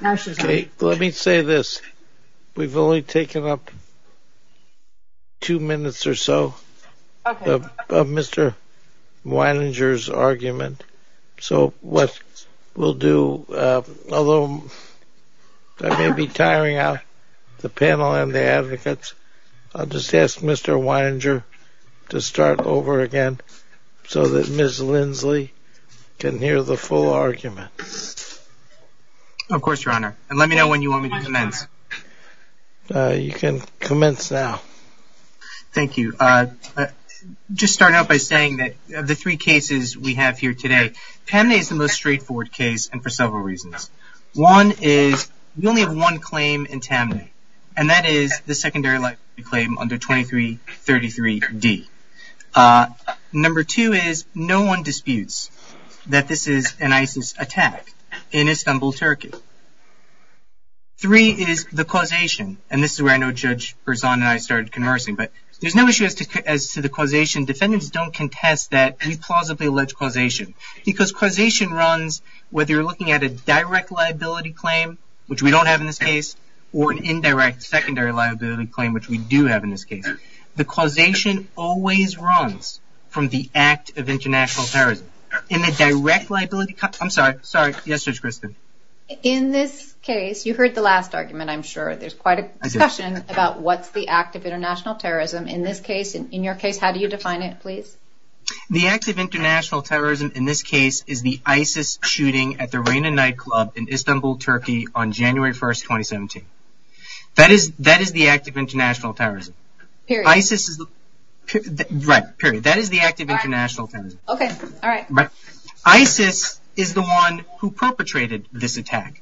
Let me say this. We've only taken up two minutes or so of Mr. Wininger's argument, so what we'll do, although I may be tiring out the panel and the advocates, I'll just ask Mr. Wininger to start over again so that Ms. Lindsley can hear the full argument. Of course, Your Honor. And let me know when you want me to commence. You can commence now. Thank you. Just starting out by saying that of the three cases we have here today, Taamneh is the most straightforward case and for several reasons. One is we only have one claim in Taamneh, and that is the secondary liability claim under 2333D. Number two is no one disputes that this is an ISIS attack in Istanbul, Turkey. Three is the causation, and this is where I know Judge Berzon and I started conversing, but there's no issue as to the causation. Defendants don't contest that we plausibly allege causation because causation runs whether you're looking at a direct liability claim, which we don't have in this case, or an indirect secondary liability claim, which we do have in this case. The causation always runs from the act of international terrorism. In the direct liability – I'm sorry. Sorry. Yes, Judge Kristen. In this case – you heard the last argument, I'm sure. There's quite a discussion about what's the act of international terrorism. In this case and in your case, how do you define it, please? The act of international terrorism in this case is the ISIS shooting at the Reyna nightclub in Istanbul, Turkey on January 1, 2017. That is the act of international terrorism. Period. ISIS is the – right, period. That is the act of international terrorism. Okay. All right. ISIS is the one who perpetrated this attack.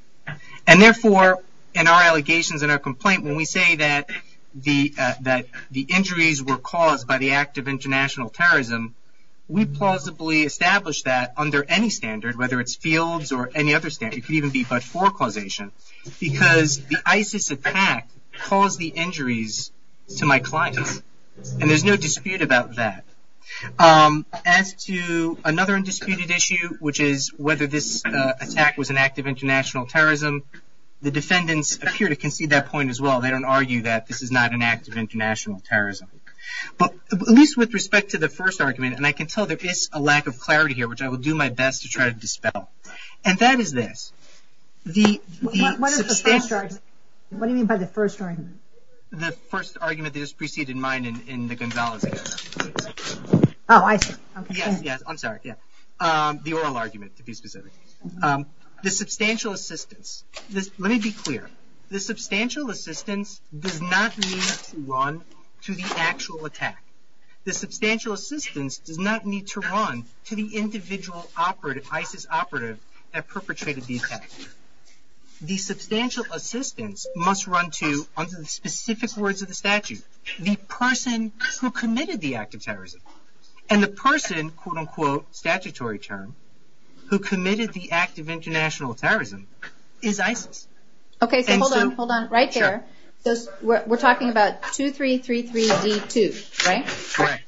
And therefore, in our allegations and our complaint, when we say that the injuries were caused by the act of international terrorism, we plausibly establish that under any standard, whether it's fields or any other standard. It could even be before causation because the ISIS attack caused the injuries to my client. And there's no dispute about that. As to another undisputed issue, which is whether this attack was an act of international terrorism, the defendants appear to concede that point as well. They don't argue that this is not an act of international terrorism. But at least with respect to the first argument, and I can tell that there's a lack of clarity here, which I will do my best to try to dispel. And that is this. What do you mean by the first argument? The first argument that is preceded in mind in the Gonzales case. Oh, I see. Yeah, I'm sorry. Yeah. The oral argument, to be specific. The substantial assistance. Let me be clear. The substantial assistance does not mean to run to the actual attack. The substantial assistance does not mean to run to the individual ISIS operative that perpetrated the attack. The substantial assistance must run to, under the specific words of the statute, the person who committed the act of terrorism. And the person, quote, unquote, statutory term, who committed the act of international terrorism is ISIS. Okay, so hold on. Hold on. Right there. We're talking about 2333D2, right? Right.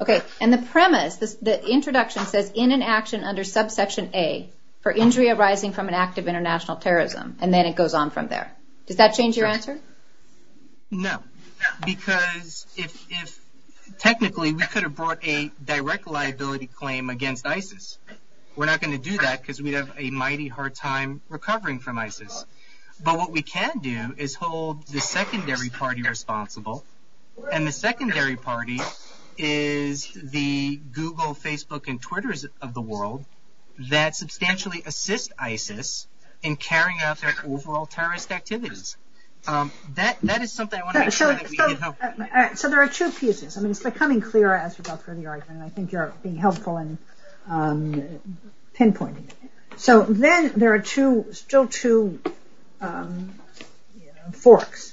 Okay. And the premise, the introduction says, in an action under subsection A for injury arising from an act of international terrorism. And then it goes on from there. Does that change your answer? No, because technically we could have brought a direct liability claim against ISIS. We're not going to do that because we'd have a mighty hard time recovering from ISIS. But what we can do is hold the secondary party responsible, and the secondary party is the Google, Facebook, and Twitter of the world that substantially assists ISIS in carrying out their overall terrorist activities. That is something I want to make sure that we can help. So there are two pieces. I mean, it's becoming clearer as you go through the argument. I think you're being helpful in pinpointing it. So then there are still two forks.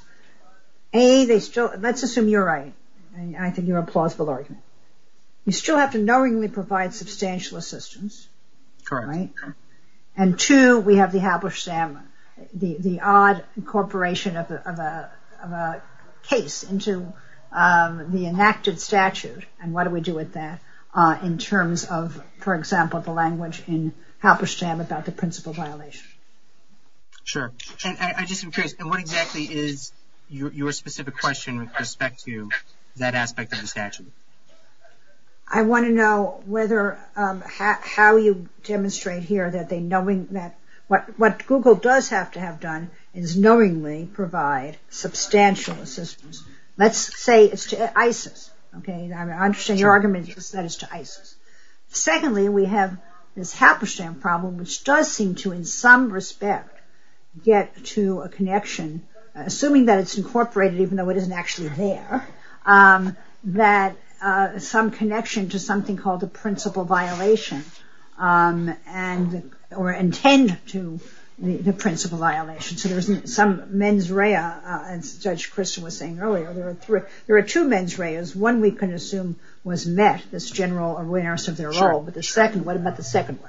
A, let's assume you're right, and I think you have a plausible argument. You still have to knowingly provide substantial assistance. Correct. Right? And two, we have the halperstam, the odd incorporation of a case into the enacted statute. And what do we do with that in terms of, for example, the language in halperstam about the principal violation? Sure. I'm just curious, what exactly is your specific question with respect to that aspect of the statute? I want to know how you demonstrate here that what Google does have to have done is knowingly provide substantial assistance. Let's say it's ISIS. I understand your argument that it's ISIS. Secondly, we have this halperstam problem, which does seem to in some respect get to a connection, assuming that it's incorporated, even though it isn't actually there, that some connection to something called the principal violation or intended to be the principal violation. So there's some mens rea, as Judge Crystal was saying earlier. There are two mens reas. One we can assume was met, this general awareness of their role. But the second, what about the second?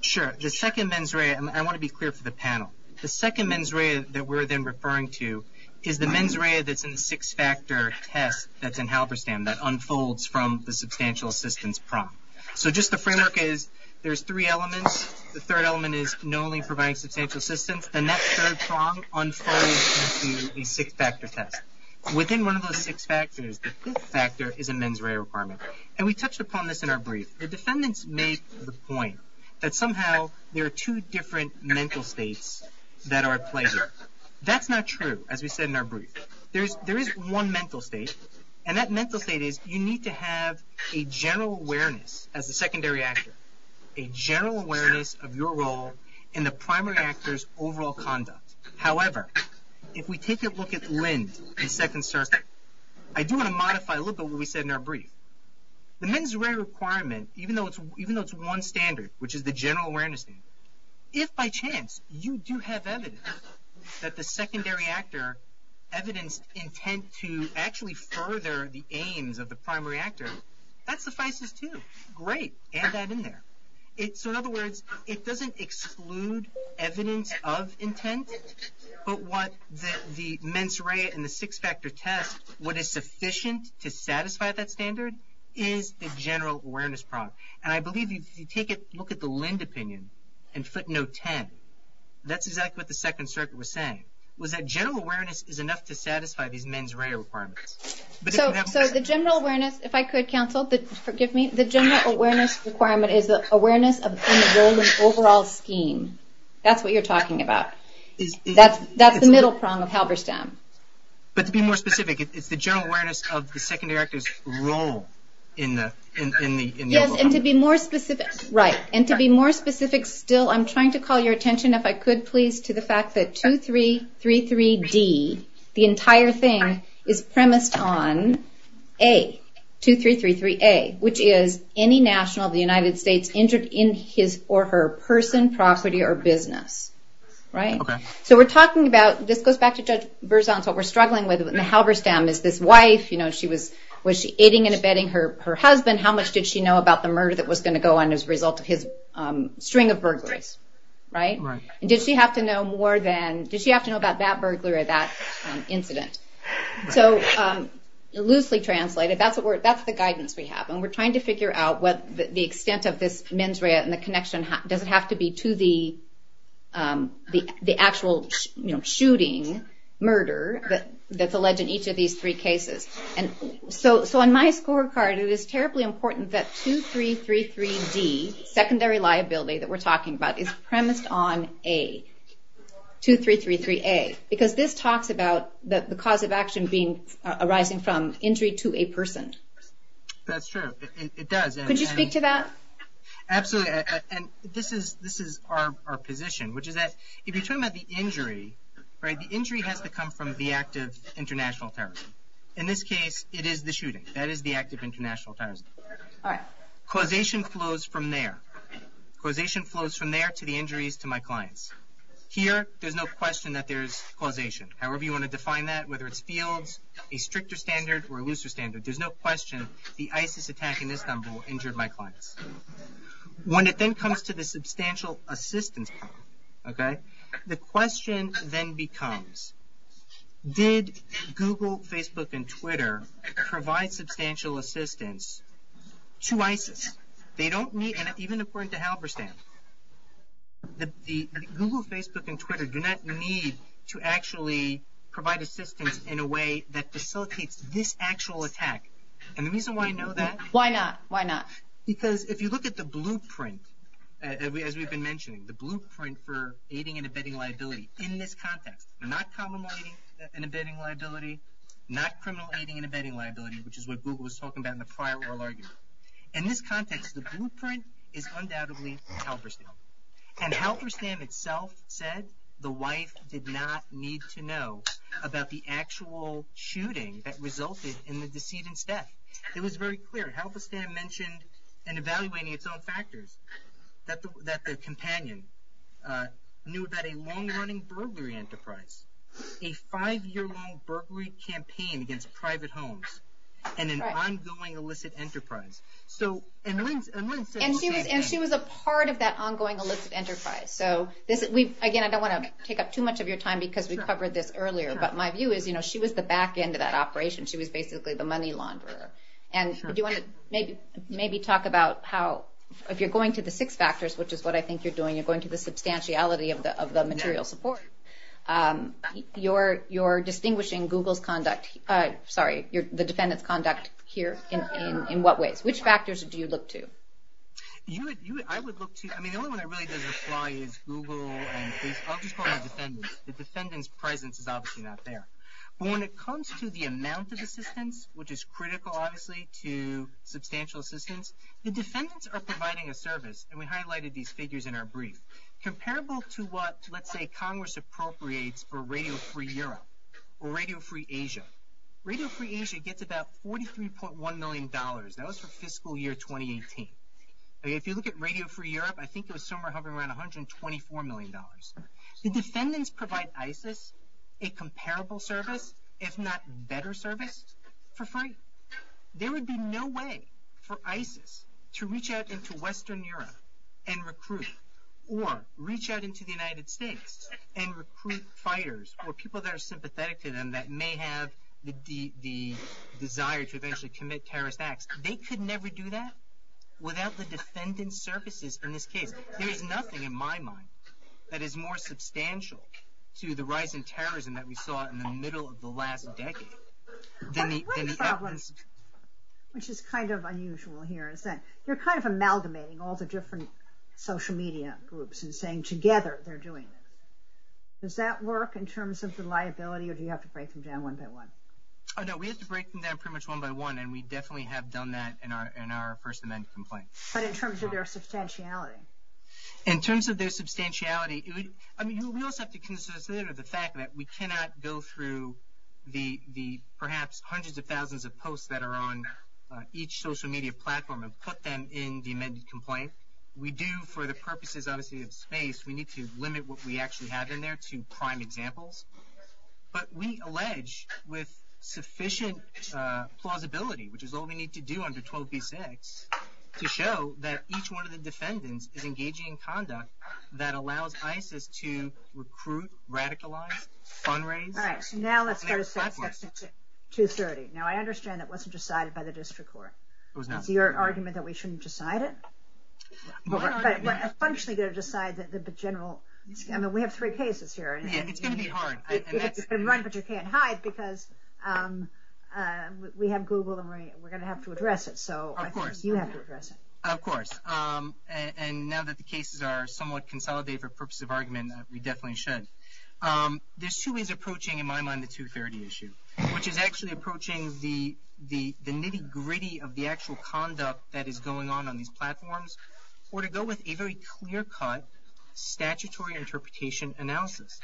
Sure. The second mens rea, I want to be clear for the panel. The second mens rea that we're then referring to is the mens rea that's in the six-factor test that's in halperstam that unfolds from the substantial assistance prompt. So just the framework is there's three elements. The third element is knowingly providing substantial assistance. The next third prompt unfolds into a six-factor test. Within one of those six factors, the sixth factor is a mens rea requirement. And we touched upon this in our brief. The defendants made the point that somehow there are two different mental states that are at play here. That's not true, as we said in our brief. There is one mental state, and that mental state is you need to have a general awareness as a secondary actor, a general awareness of your role in the primary actor's overall conduct. However, if we take a look at Lynn in Second Circuit, I do want to modify a little bit what we said in our brief. The mens rea requirement, even though it's one standard, which is the general awareness state, if by chance you do have evidence that the secondary actor evidence intent to actually further the aims of the primary actor, that suffices too. Great. Add that in there. So in other words, it doesn't exclude evidence of intent, but what the mens rea and the six-factor test, what is sufficient to satisfy that standard, is the general awareness process. And I believe if you take a look at the Lynn opinion in footnote 10, that's exactly what the Second Circuit was saying, was that general awareness is enough to satisfy these mens rea requirements. So the general awareness, if I could, counsel, forgive me, the general awareness requirement is the awareness of someone's role in the overall scheme. That's what you're talking about. That's the middle song of Halberstam. But to be more specific, it's the general awareness of the secondary actor's role in the overall scheme. Right. And to be more specific still, I'm trying to call your attention, if I could please, to the fact that 2333G, the entire thing, is premised on A, 2333A, which is any national of the United States injured in his or her person, property, or business. Right? So we're talking about, this goes back to Judge Berzon, what we're struggling with in the Halberstam is this wife, you know, was she aiding and abetting her husband? How much did she know about the murder that was going to go on as a result of his string of burglars? Right? And did she have to know more than, did she have to know about that burglar or that incident? So loosely translated, that's the guidance we have. And we're trying to figure out what the extent of this mens rea and the connection does it have to be to the actual, you know, shooting, murder that's alleged in each of these three cases. And so on my scorecard, it is terribly important that 2333D, secondary liability that we're talking about, is premised on A, 2333A, because this talks about the cause of action arising from injury to a person. That's true. It does. Could you speak to that? Absolutely. And this is our position, which is that if you're talking about the injury, right, the injury has to come from the act of international terrorism. In this case, it is the shooting. That is the act of international terrorism. All right. Causation flows from there. Causation flows from there to the injuries to my clients. Here, there's no question that there's causation. However you want to define that, whether it's fields, a stricter standard, or a looser standard, there's no question the ISIS attack in Istanbul injured my clients. When it then comes to the substantial assistance, okay, the question then becomes, did Google, Facebook, and Twitter provide substantial assistance to ISIS? Even according to Halberstadt, the Google, Facebook, and Twitter do not need to actually provide assistance in a way that facilitates this actual attack. And the reason why I know that? Why not? Why not? Because if you look at the blueprint, as we've been mentioning, the blueprint for aiding and abetting liability in this context, not criminal aiding and abetting liability, which is what Google was talking about in the prior oral argument. In this context, the blueprint is undoubtedly Halberstadt. And Halberstadt itself said the Whites did not need to know about the actual shooting that resulted in the decedent's death. It was very clear. Halberstadt mentioned in evaluating its own factors that their companions knew about a long-running burglary enterprise, a five-year-long burglary campaign against private homes, and an ongoing illicit enterprise. And she was a part of that ongoing illicit enterprise. So, again, I don't want to take up too much of your time because we covered this earlier, but my view is she was the back end of that operation. She was basically the money launderer. And do you want to maybe talk about how, if you're going to the six factors, which is what I think you're doing, you're going to the substantiality of the material support, you're distinguishing the defendant's conduct here in what ways? Which factors do you look to? I would look to – I mean, the only one that really doesn't apply is Google. And I'll just call my defendants. The defendant's presence is obviously not there. But when it comes to the amount of assistance, which is critical, obviously, to substantial assistance, the defendants are providing a service. And we highlighted these figures in our brief. Comparable to what, let's say, Congress appropriates for Radio Free Europe or Radio Free Asia, Radio Free Asia gets about $43.1 million. That was for fiscal year 2018. If you look at Radio Free Europe, I think it was somewhere hovering around $124 million. The defendants provide ISIS a comparable service, if not better service, for free. There would be no way for ISIS to reach out into Western Europe and recruit, or reach out into the United States and recruit fighters or people that are sympathetic to them that may have the desire to eventually commit terrorist acts. They could never do that without the defendants' services in this case. There is nothing in my mind that is more substantial to the rise in terrorism that we saw in the middle of the last decade. Which is kind of unusual here. You're kind of amalgamating all the different social media groups and saying together they're doing it. Does that work in terms of the liability or do you have to break them down one by one? No, we have to break them down pretty much one by one, and we definitely have done that in our first amendment complaint. But in terms of their substantiality? In terms of their substantiality, we also have to consider the fact that we cannot go through the perhaps hundreds of thousands of posts that are on each social media platform and put them in the amendment complaint. We do, for the purposes obviously of space, we need to limit what we actually have in there to prime examples. But we allege with sufficient plausibility, which is all we need to do under 12B6, to show that each one of the defendants is engaging in conduct that allows ISIS to recruit, radicalize, fundraise. Now let's go to 230. Now I understand that wasn't decided by the district court. It was not. Your argument that we shouldn't decide it? We're essentially going to decide that the general, I mean we have three cases here. It's going to be hard. We can't hide because we have Google and we're going to have to address it. Of course. You have to address it. Of course. And now that the cases are somewhat consolidated for purposes of argument, we definitely should. There's two ways of approaching, in my mind, the 230 issue, which is actually approaching the nitty-gritty of the actual conduct that is going on on these platforms, or to go with a very clear-cut statutory interpretation analysis.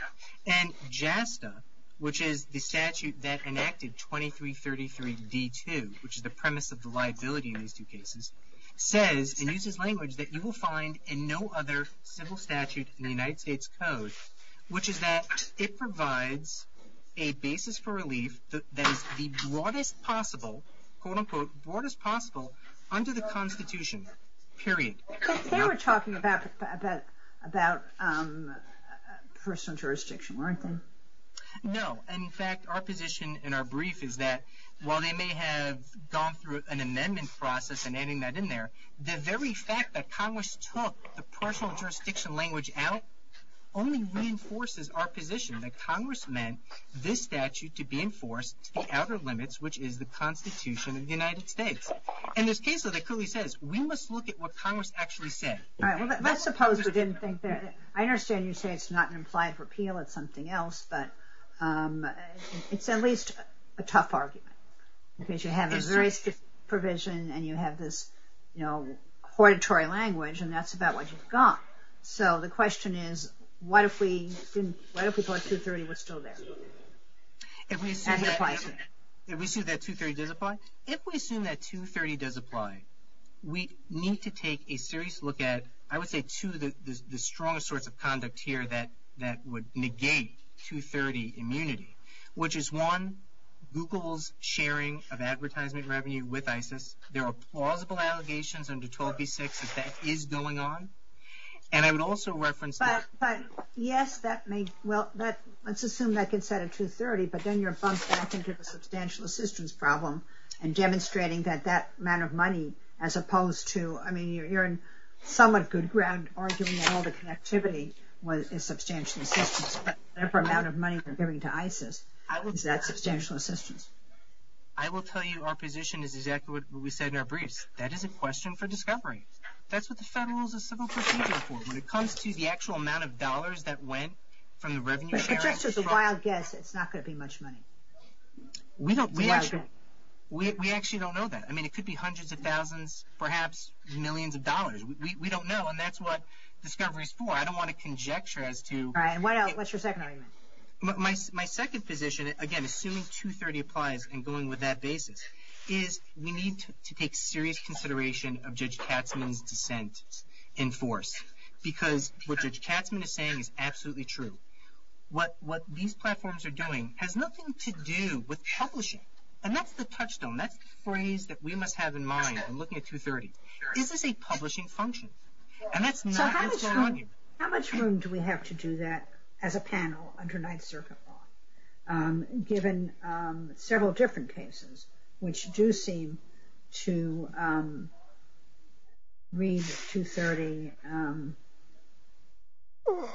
And JASTA, which is the statute that enacted 2333D2, which is the premise of the liability in these two cases, says and uses language that you will find in no other civil statute in the United States Code, which is that it provides a basis for relief that is the broadest possible, quote-unquote, broadest possible under the Constitution, period. They were talking about personal jurisdiction, weren't they? No. And, in fact, our position in our brief is that while they may have gone through an amendment process and adding that in there, the very fact that Congress took the personal jurisdiction language out only reinforces our position that Congress meant this statute to be enforced without our limits, which is the Constitution of the United States. In this case, what they clearly said is we must look at what Congress actually said. All right. Let's suppose we didn't think that. I understand you say it's not an implied repeal. It's something else. But it's at least a tough argument because you have this very strict provision and you have this, you know, auditory language, and that's about what you've got. So the question is what if we thought 230 was still there? And it applies. Did we assume that 230 did apply? If we assume that 230 does apply, we need to take a serious look at, I would say, two of the strongest sorts of conduct here that would negate 230 immunity, which is, one, Google's sharing of advertisement revenue with ISIS. There are plausible allegations under 12b-6 that that is going on. And I would also reference that. But, yes, that may, well, let's assume that could set at 230, but then you're bumped back into the substantial assistance problem and demonstrating that that amount of money, as opposed to, I mean, you're in somewhat good ground arguing all the connectivity was a substantial assistance, but therefore amount of money was given to ISIS. How is that substantial assistance? I will tell you our position is exactly what we said in our briefs. That is a question for discovery. That's what the federal civil procedure is for. When it comes to the actual amount of dollars that went from the revenue. As a wild guess, it's not going to be much money. We actually don't know that. I mean, it could be hundreds of thousands, perhaps millions of dollars. We don't know, and that's what discovery is for. I don't want to conjecture as to. What's your second argument? My second position, again, assuming 230 applies and going with that basis, is we need to take serious consideration of Judge Katzmann's dissent in force. Because what Judge Katzmann is saying is absolutely true. What these platforms are doing has nothing to do with publishing. And that's the touchstone. That's the phrase that we must have in mind in looking at 230. This is a publishing function. And that's not just an argument. How much room do we have to do that as a panel under Ninth Circuit law, given several different cases, which do seem to read 230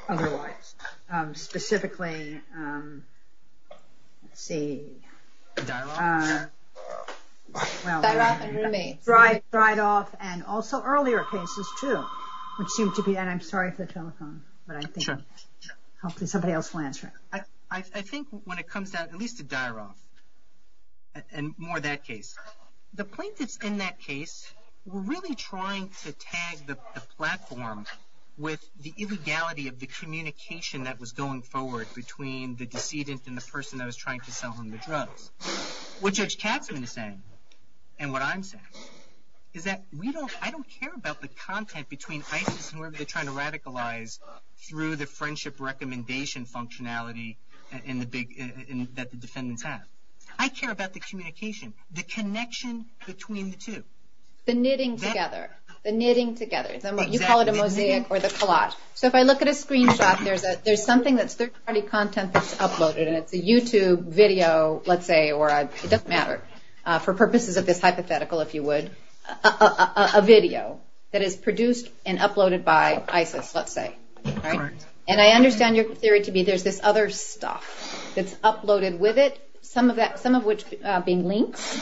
otherwise. Specifically, let's see. Dry it off. And also earlier cases, too. I'm sorry for the telephone. I think when it comes at least to dry it off, and more that case, the plaintiffs in that case were really trying to tag the platform with the illegality of the communication that was going forward between the decedent and the person that was trying to sell him the drug. What Judge Katzmann said and what I'm saying is that I don't care about the content between ISIS and whoever they're trying to radicalize through the friendship recommendation functionality in the decedent's hands. I care about the communication, the connection between the two. The knitting together. The knitting together. You call it a mosaic or the collage. So if I look at a screenshot, there's something that's third-party content that's uploaded, and it's a YouTube video, let's say, or it doesn't matter, for purposes of this hypothetical, if you would, a video that is produced and uploaded by ISIS, let's say. And I understand your theory to be there's this other stuff that's uploaded with it, some of which being linked,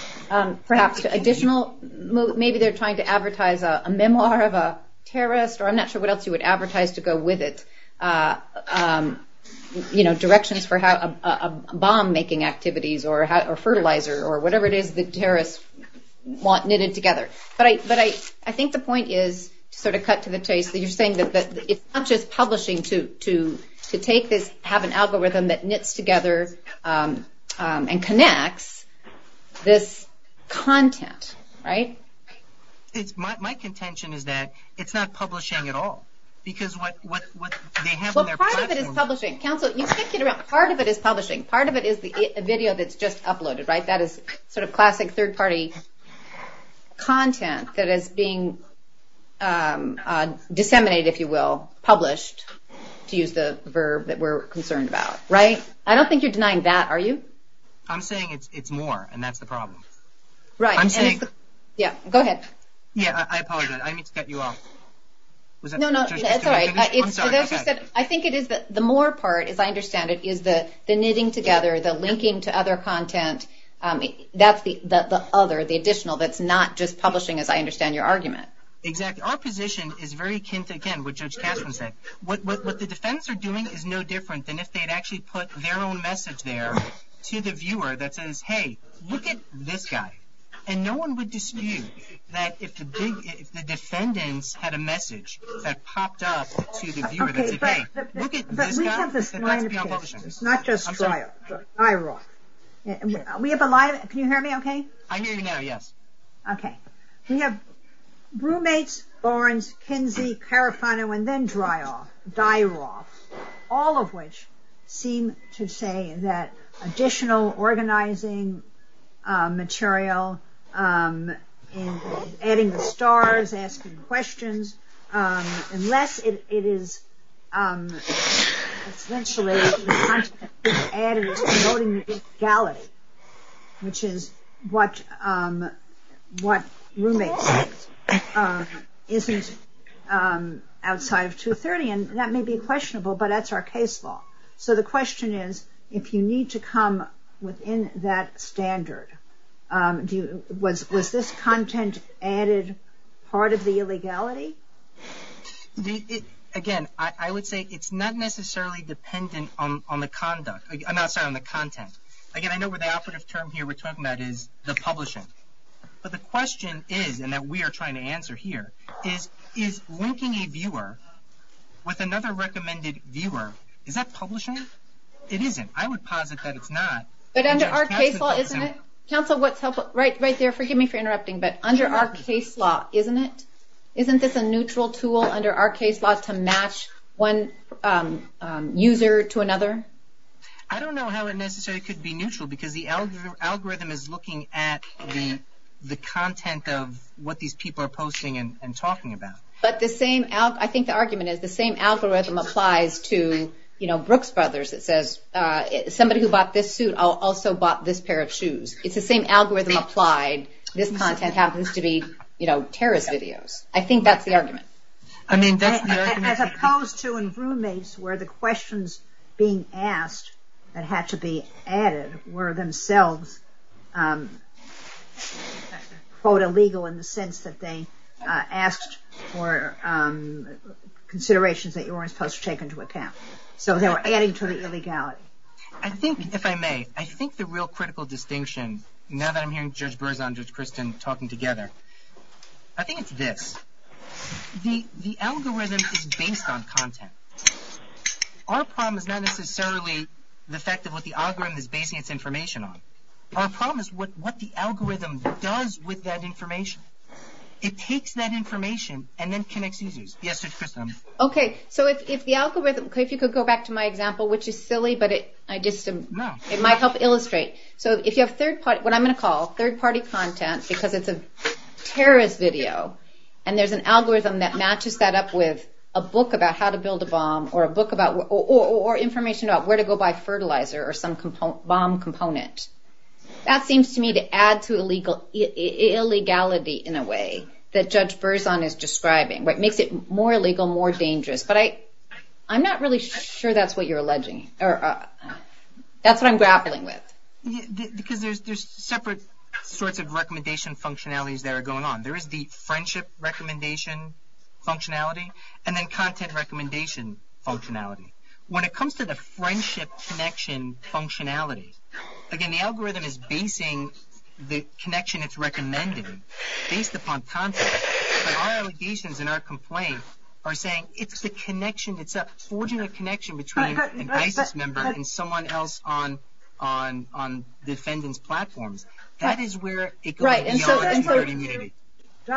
perhaps additional. Maybe they're trying to advertise a memoir of a terrorist, or I'm not sure what else you would advertise to go with it. Directions for bomb-making activities or fertilizer or whatever it is that terrorists want knitted together. But I think the point is sort of cut to the chase. You're saying that it's not just publishing to have an algorithm that knits together and connects this content, right? My contention is that it's not publishing at all. Well, part of it is publishing. Part of it is publishing. Part of it is the video that's just uploaded, right? That is sort of classic third-party content that is being disseminated, if you will, published, to use the verb that we're concerned about, right? I don't think you're denying that, are you? I'm saying it's more, and that's the problem. Right. Yeah, go ahead. Yeah, I apologize. No, no, that's all right. I think it is the more part, if I understand it, is the knitting together, the linking to other content. That's the other, the additional that's not just publishing, as I understand your argument. Exactly. Our position is very akin to, again, what Judge Kasman said. What the defense are doing is no different than if they had actually put their own message there to the viewer that says, hey, look at this guy. And no one would dispute that if the defendants had a message that popped up to the viewer that says, look at this guy. But we have this line of defense. It's not just dry off, but die raw. We have a lot of, can you hear me okay? I hear you now, yes. Okay. So you have roommates, Lawrence, Kinsey, Carafano, and then dry off, die raw, all of which seem to say that additional organizing material, adding the stars, asking questions, unless it is essentially adding or promoting the big galley, which is what roommates isn't outside of 230. And that may be questionable, but that's our case law. So the question is, if you need to come within that standard, was this content added part of the illegality? Again, I would say it's not necessarily dependent on the content. Again, I know what the affidavit term here we're talking about is, the publishing. But the question is, and that we are trying to answer here, is linking a viewer with another recommended viewer, is that publishing? It isn't. I would posit that it's not. But under our case law, isn't it? Counsel, right there, forgive me for interrupting, but under our case law, isn't this a neutral tool under our case law to match one user to another? I don't know how it necessarily could be neutral, because the algorithm is looking at the content of what these people are posting and talking about. But I think the argument is the same algorithm applies to Brooks Brothers. It says, somebody who bought this suit also bought this pair of shoes. It's the same algorithm applied. This content happens to be Paris videos. I think that's the argument. As opposed to in roommates where the questions being asked that had to be added were themselves, quote, illegal in the sense that they asked for considerations that you weren't supposed to take into account. So they're adding to the illegality. I think, if I may, I think the real critical distinction, now that I'm hearing Judge Berns and Judge Christian talking together, I think it's this. The algorithm is based on content. Our problem is not necessarily the fact that what the algorithm is basing its information on. Our problem is what the algorithm does with that information. It takes that information and then connects users. Yes, Judge Christian. Okay, so if the algorithm, if you could go back to my example, which is silly, but it might help illustrate. So if you have third party, what I'm going to call third party content, because it's a Paris video, and there's an algorithm that matches that up with a book about how to build a bomb or information about where to go buy fertilizer or some bomb component, that seems to me to add to illegality in a way that Judge Berns is describing, what makes it more illegal, more dangerous. But I'm not really sure that's what you're alleging. That's what I'm grappling with. Because there's separate sorts of recommendation functionalities that are going on. There is the friendship recommendation functionality and then content recommendation functionality. When it comes to the friendship connection functionality, again, the algorithm is basing the connection it's recommending based upon content. But our allegations and our complaints are saying it's a connection, it's a fortunate connection between an ISIS member and someone else on defendants' platforms. That is where it goes beyond community. Right. And so let's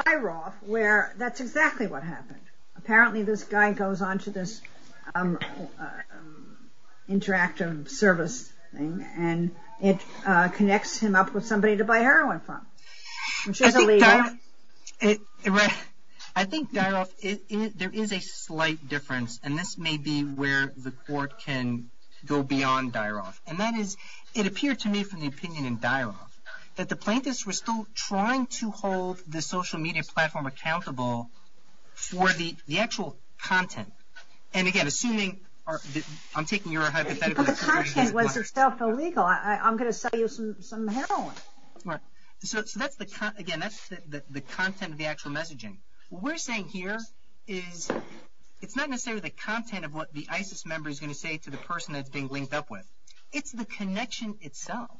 go to Dyroff where that's exactly what happened. Apparently this guy goes on to this interactive service thing and it connects him up with somebody to buy heroin from. I think, Dyroff, there is a slight difference, and this may be where the court can go beyond Dyroff. And that is it appeared to me from the opinion in Dyroff that the plaintiffs were still trying to hold the social media platform accountable for the actual content. And, again, assuming I'm taking your hypothetical. But the content was itself illegal. I'm going to sell you some heroin. So, again, that's the content of the actual messaging. What we're saying here is it's not necessarily the content of what the ISIS member is going to say to the person that they linked up with. It's the connection itself.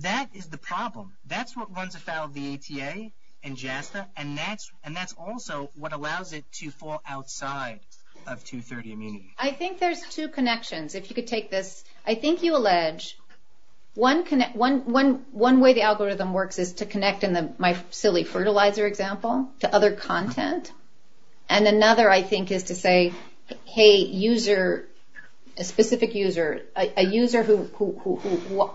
That is the problem. That's what runs afoul of the ATA and JASA, and that's also what allows it to fall outside of 230 and me. I think there's two connections, if you could take this. I think you allege one way the algorithm works is to connect, in my silly fertilizer example, to other content. And another, I think, is to say, hey, a specific user, a user who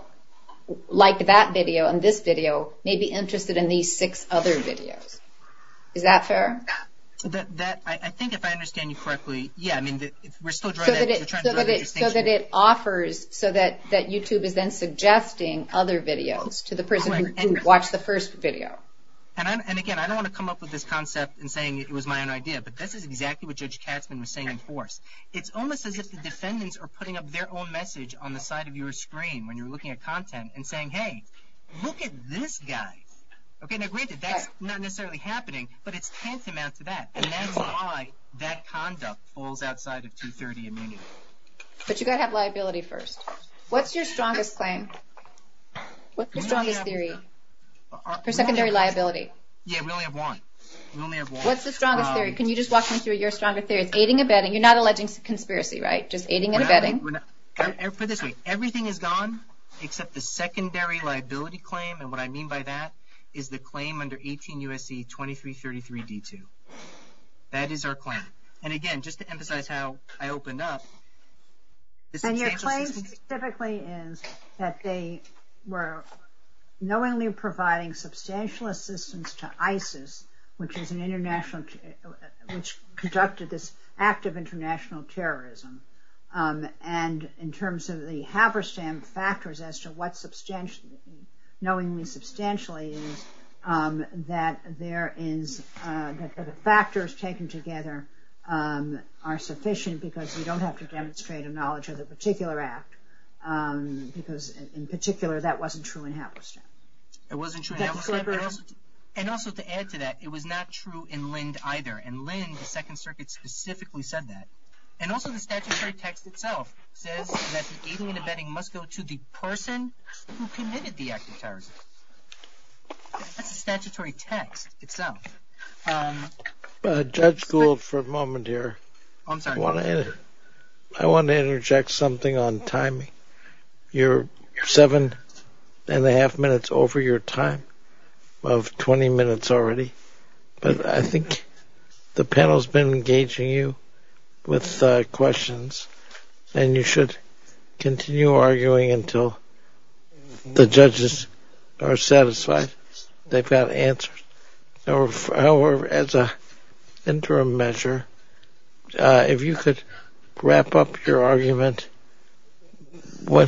liked that video and this video may be interested in these six other videos. Is that fair? I think if I understand you correctly, yeah. So that it offers so that YouTube is then suggesting other videos to the person who watched the first video. And, again, I don't want to come up with this concept and saying it was my own idea, but this is exactly what Judge Chapman was saying in fourth. It's almost as if the defendants are putting up their own message on the side of your screen when you're looking at content and saying, hey, look at this guy. Now, granted, that's not necessarily happening, but it's tantamount to that. And then why that conduct falls outside of 230 and meaning. But you've got to have liability first. What's your strongest claim? What's the strongest theory for secondary liability? Yeah, we only have one. We only have one. What's the strongest theory? Can you just walk me through your strongest theory? Aiding and abetting. You're not alleging conspiracy, right? Just aiding and abetting. Everything is gone except the secondary liability claim. And what I mean by that is the claim under 18 U.S.C. 2333 D2. That is our claim. And, again, just to emphasize how I opened up. And your claim specifically is that they were knowingly providing substantial assistance to ISIS, which is an international, which conducted this act of international terrorism, and in terms of the factors as to what knowingly substantial aid is, that the factors taken together are sufficient because we don't have to demonstrate a knowledge of the particular act because, in particular, that wasn't true in Afghanistan. It wasn't true in Afghanistan? And also to add to that, it was not true in Lind either. And Lind, the Second Circuit, specifically said that. And also the statutory text itself says that aiding and abetting must go to the person who committed the act of terrorism. That's the statutory text itself. Judge Gould, for a moment here. I'm sorry. I want to interject something on timing. You're seven and a half minutes over your time of 20 minutes already. But I think the panel's been engaging you with questions. And you should continue arguing until the judges are satisfied they've got answers. However, as an interim measure, if you could wrap up your argument by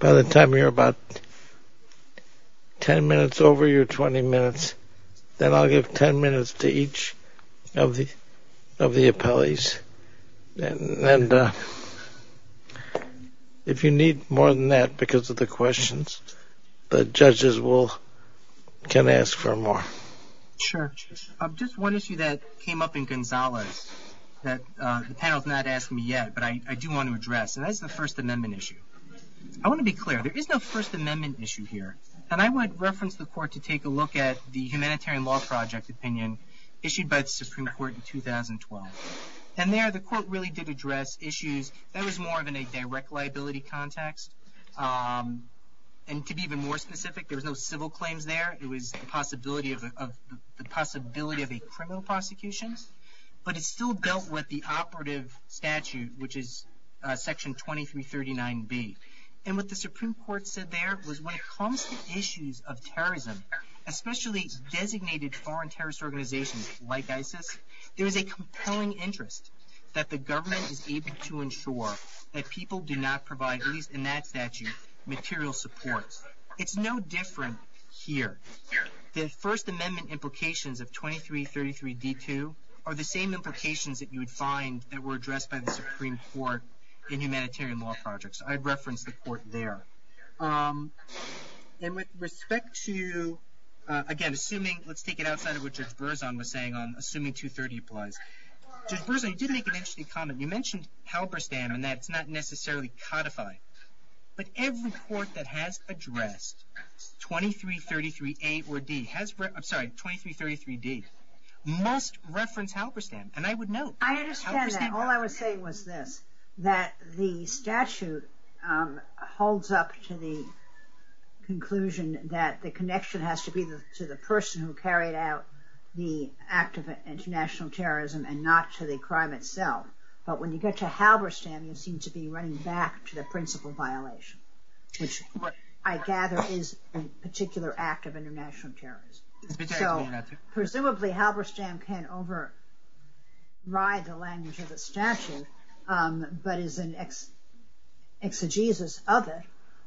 the I'll give ten minutes to each of the appellees. And if you need more than that because of the questions, the judges can ask for more. Sure. Just one issue that came up in Gonzales that the panel's not asking me yet, but I do want to address. And that's the First Amendment issue. I want to be clear. There is no First Amendment issue here. And I would reference the court to take a look at the Humanitarian Law Project opinion issued by the Supreme Court in 2012. And there the court really did address issues that was more of in a direct liability context. And to be even more specific, there was no civil claims there. It was the possibility of a criminal prosecution. But it still dealt with the operative statute, which is Section 2339B. And what the Supreme Court said there was when it comes to issues of terrorism, especially designated foreign terrorist organizations like ISIS, there is a compelling interest that the government is able to ensure that people do not provide, at least in that statute, material support. It's no different here. The First Amendment implications of 2333D2 are the same implications that you would find that were addressed by the Supreme Court in Humanitarian Law Projects. I'd reference the court there. And with respect to, again, assuming, let's take it outside of what Judge Berzon was saying on assuming 230 applies. Judge Berzon, you did make an interesting comment. You mentioned Halberstam, and that's not necessarily codified. But every court that has addressed 2333A or D, sorry, 2333D, must reference Halberstam. And I would note. I understand that. All I would say was this, that the statute holds up to the conclusion that the connection has to be to the person who carried out the act of international terrorism and not to the crime itself. But when you get to Halberstam, you seem to be running back to the principle violation, which I gather is a particular act of international terrorism. Presumably Halberstam can override the language of the statute, but is an exegesis of it.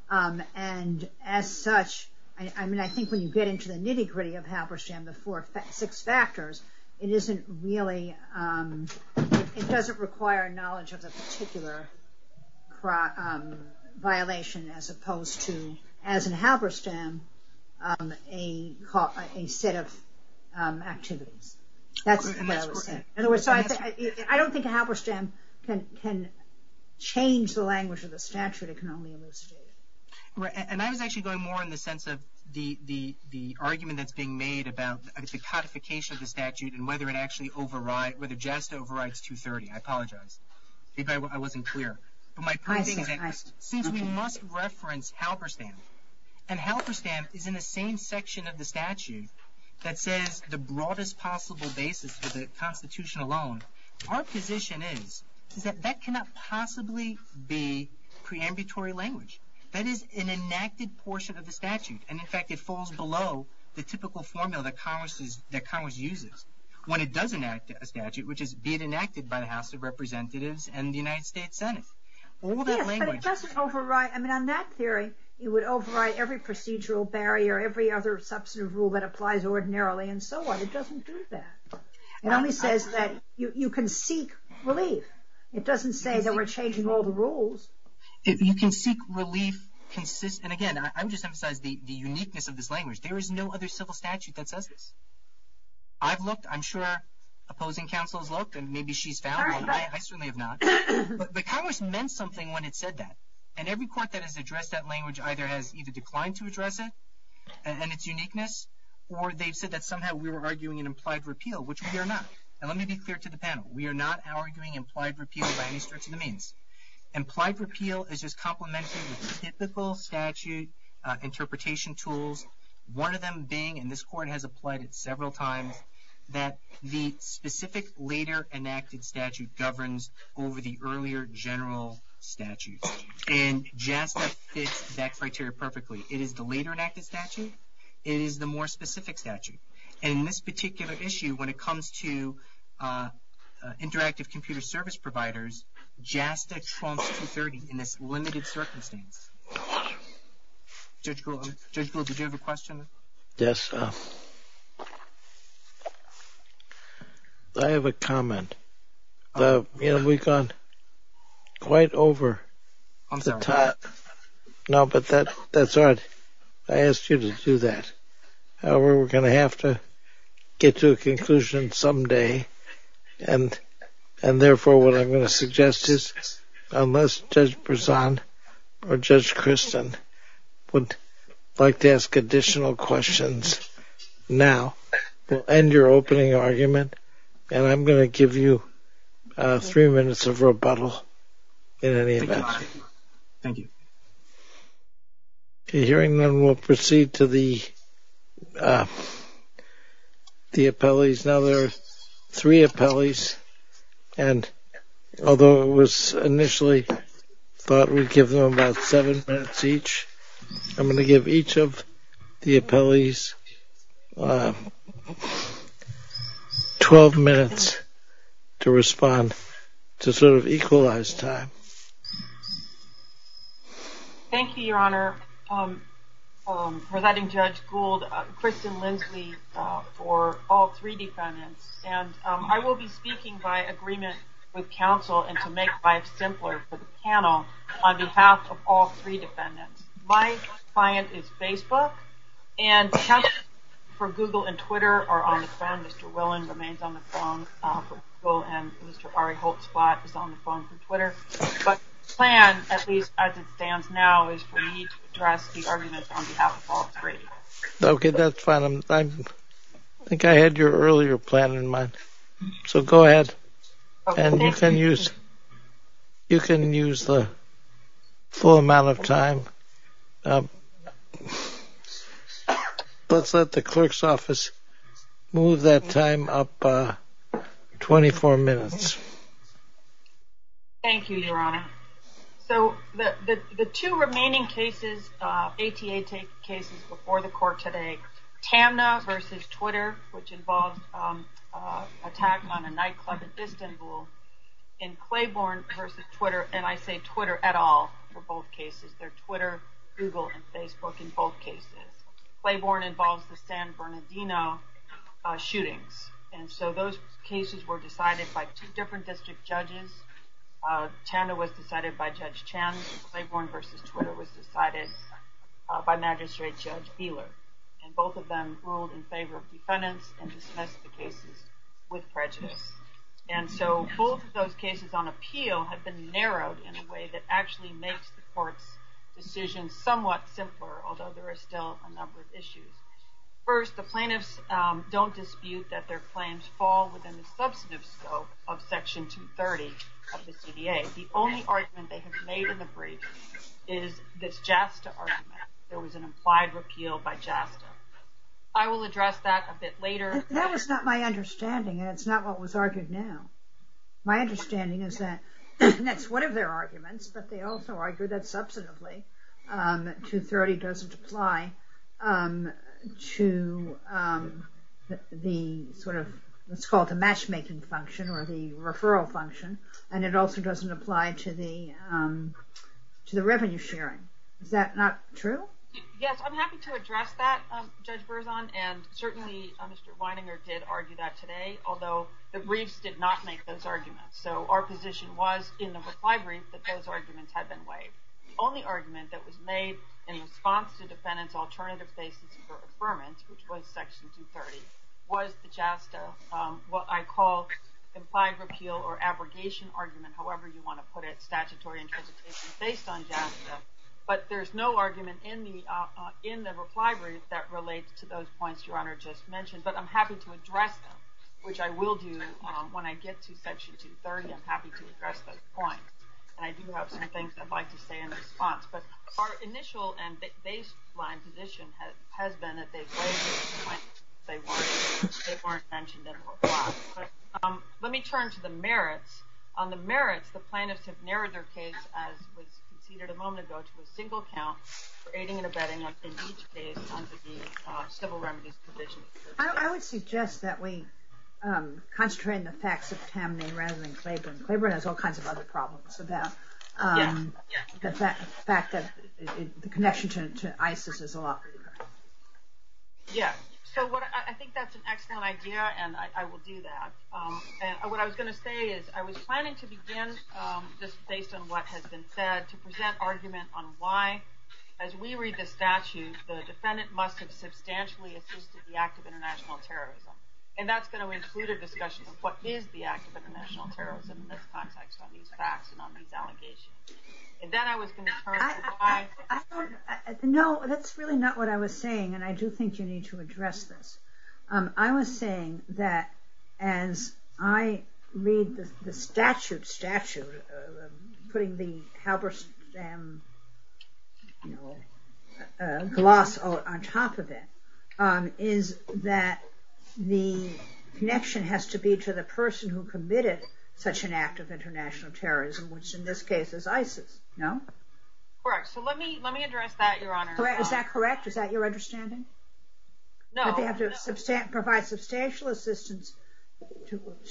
And as such, I mean, I think when you get into the nitty gritty of Halberstam, the six factors, it isn't really, it doesn't require knowledge of a particular violation as opposed to, as in Halberstam, a set of activities. In other words, I don't think Halberstam can change the language of the statute. And I was actually going more in the sense of the argument that's being made about the codification of the statute and whether it actually overrides, whether JASTA overrides 230. I apologize if I wasn't clear. Since we must reference Halberstam, and Halberstam is in the same section of the statute that says the broadest possible basis for the constitution alone, our position is that that cannot possibly be preambulatory language. That is an enacted portion of the statute. And in fact, it falls below the typical formula that Congress uses when it does enact a statute, which is being enacted by the House of Representatives and the United States Senate. Yes, but it doesn't override. I mean, on that hearing, you would override every procedural barrier, every other substantive rule that applies ordinarily and so on. It doesn't do that. It only says that you can seek relief. It doesn't say that we're changing all the rules. You can seek relief. And again, I'm just emphasizing the uniqueness of this language. There is no other civil statute that does it. I've looked, I'm sure opposing counsel's looked and maybe she's found. I still may have not, but Congress meant something when it said that. And every court that has addressed that language either has either declined to address it and its uniqueness, or they've said that somehow we were arguing an implied repeal, which we are not. And let me be clear to the panel. We are not arguing implied repeal by any stretch of the means. Implied repeal is just complemented with typical statute interpretation tools. One of them being, and this court has applied it several times, that the specific later enacted statute governs over the earlier general statute. And JASTA fits that criteria perfectly. It is the later enacted statute. It is the more specific statute. And in this particular issue, when it comes to interactive computer service providers, JASTA trumps 230 in its limited circumstances. Judge Gould, did you have a question? Yes. I have a comment. We've gone quite over the top. No, but that's all right. I asked you to do that. However, we're going to have to get to a conclusion someday. And therefore, what I'm going to suggest is, unless Judge Prezan or Judge Christin would like to ask additional questions now, we'll end your opening argument. And I'm going to give you three minutes of rebuttal in any event. Thank you. Hearing none, we'll proceed to the appellees. Now there are three appellees. And although it was initially thought we'd give them about seven minutes each, I'm going to give each of the appellees 12 minutes to respond to sort of equalize time. Thank you, Your Honor. Thank you, Your Honor. Presenting Judge Gould, Christin Lindsley for all three defendants. And I will be speaking by agreement with counsel and to make life simpler for the panel on behalf of all three defendants. My client is Facebook. And for Google and Twitter are on the phone. Mr. Willen remains on the phone for Google. The plan, at least as it stands now, is for me to address the argument on behalf of all three. Okay. That's fine. I think I had your earlier plan in mind. So go ahead. And you can use the full amount of time. Let's let the clerk's office move that time up 24 minutes. Thank you, Your Honor. So the two remaining cases, APA cases before the court today, TANDA versus Twitter, which involves an attack on a nightclub in Istanbul, and Claiborne versus Twitter. And I say Twitter at all for both cases. They're Twitter, Google, and Facebook in both cases. Claiborne involves the San Bernardino shooting. And so those cases were decided by two different district judges. TANDA was decided by Judge Chan. Claiborne versus Twitter was decided by Magistrate Joe Thieler. And both of them ruled in favor of defendants and dismissed the cases with prejudice. And so both of those cases on appeal have been narrowed in a way that actually makes the court's decision somewhat simpler, although there are still a number of issues. First, the plaintiffs don't dispute that their claims fall within the substantive scope of Section 230 of the CDA. The only argument they have made in the brief is this JASTA argument. There was an implied repeal by JASTA. I will address that a bit later. That is not my understanding, and it's not what was argued now. My understanding is that that's one of their arguments, but they also argue that substantively 230 doesn't apply to the sort of what's called the matchmaking function or the referral function, and it also doesn't apply to the revenue sharing. Is that not true? Yes, I'm happy to address that, Judge Berzon, and certainly Mr. Weininger did argue that today, although the briefs did not make those arguments. So our position was in the reply brief that those arguments had been waived. The only argument that was made in response to the defendant's alternative basis for affirmance, which was Section 230, was the JASTA what I call implied repeal or abrogation argument, however you want to put it, statutory interpretation based on JASTA. But there's no argument in the reply brief that relates to those points that your Honor just mentioned, but I'm happy to address them, which I will do when I get to Section 230. I'm happy to address those points, and I do have some things I'd like to say in response. But our initial and baseline position has been that they've waived those points if they weren't mentioned in the reply. But let me turn to the merits. On the merits, the plaintiffs have narrowed their case, as we conceded a moment ago, to a single count for aiding or abetting us in each case under the civil remedies position. I would suggest that we concentrate on the fact that Tammi ran with Claiborne. Claiborne has all kinds of other problems with that. The fact that the connection to ISIS is lost. Yes. So I think that's an excellent idea, and I will do that. What I was going to say is I was planning to begin this case on what has been said. As we read the statutes, the defendant must have substantially assisted the act of international terrorism. And that's going to include a discussion of what is the act of international terrorism in this context, on these facts and on these allegations. And then I was going to turn to the facts. No, that's really not what I was saying, and I do think you need to address this. I was saying that as I read the statute, putting the Halberstam gloss on top of it, is that the connection has to be to the person who committed such an act of international terrorism, which in this case is ISIS. No? Correct. So let me address that, Your Honor. Is that correct? Is that your understanding? No. That they have to provide substantial assistance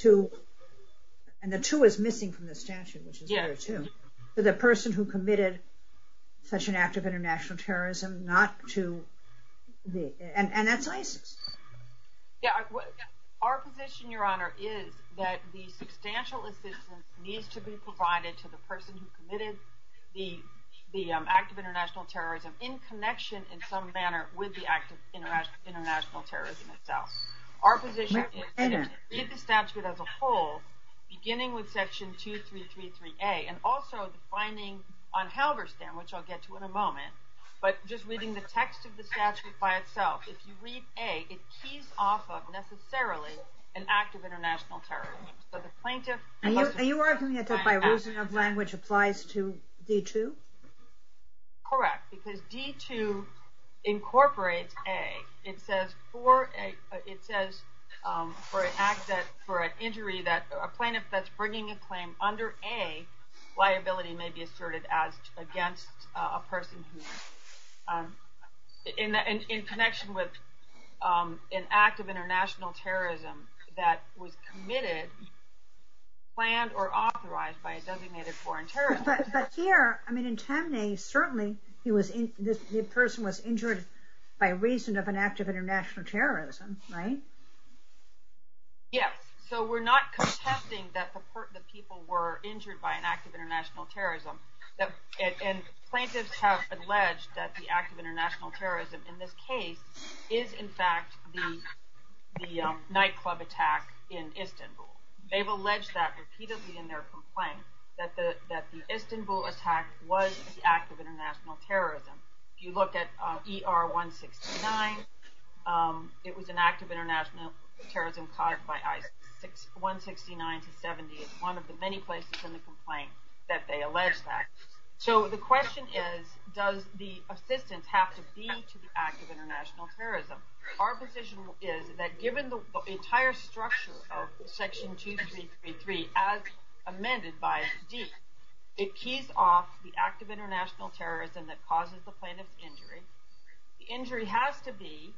to, and the to is missing from the statute, which is there too, to the person who committed such an act of international terrorism, not to the ISIS. Our position, Your Honor, is that the substantial assistance needs to be provided to the person who committed the act of international terrorism in connection in some manner with the act of international terrorism itself. Our position is to read the statute as a whole, beginning with section 2333A, and also defining on Halberstam, which I'll get to in a moment, but just reading the text of the statute by itself. If you read A, it keys off of necessarily an act of international terrorism. So the plaintiff... Are you arguing that the birusing of language applies to D2? Correct. Because D2 incorporates A. It says for an act that, for an injury that a plaintiff that's bringing a claim under A, liability may be asserted against a person who, in connection with an act of international terrorism that was committed, planned, or authorized by a designated foreign terrorist. But here, I mean, certainly the person was injured by reason of an act of international terrorism, right? Yes. So we're not contesting that the people were injured by an act of international terrorism. And plaintiffs have alleged that the act of international terrorism, in this case, is in fact the nightclub attack in Istanbul. They've alleged that repeatedly in their complaints, that the Istanbul attack was an act of international terrorism. If you look at ER-169, it was an act of international terrorism caused by ISIS. 169-70 is one of the many places in the complaint that they allege that. So the question is, does the assistance have to be to the act of international terrorism? Our position is that given the entire structure of Section 2333, as amended by D, it keys off the act of international terrorism that causes the plaintiff's injury. The injury has to be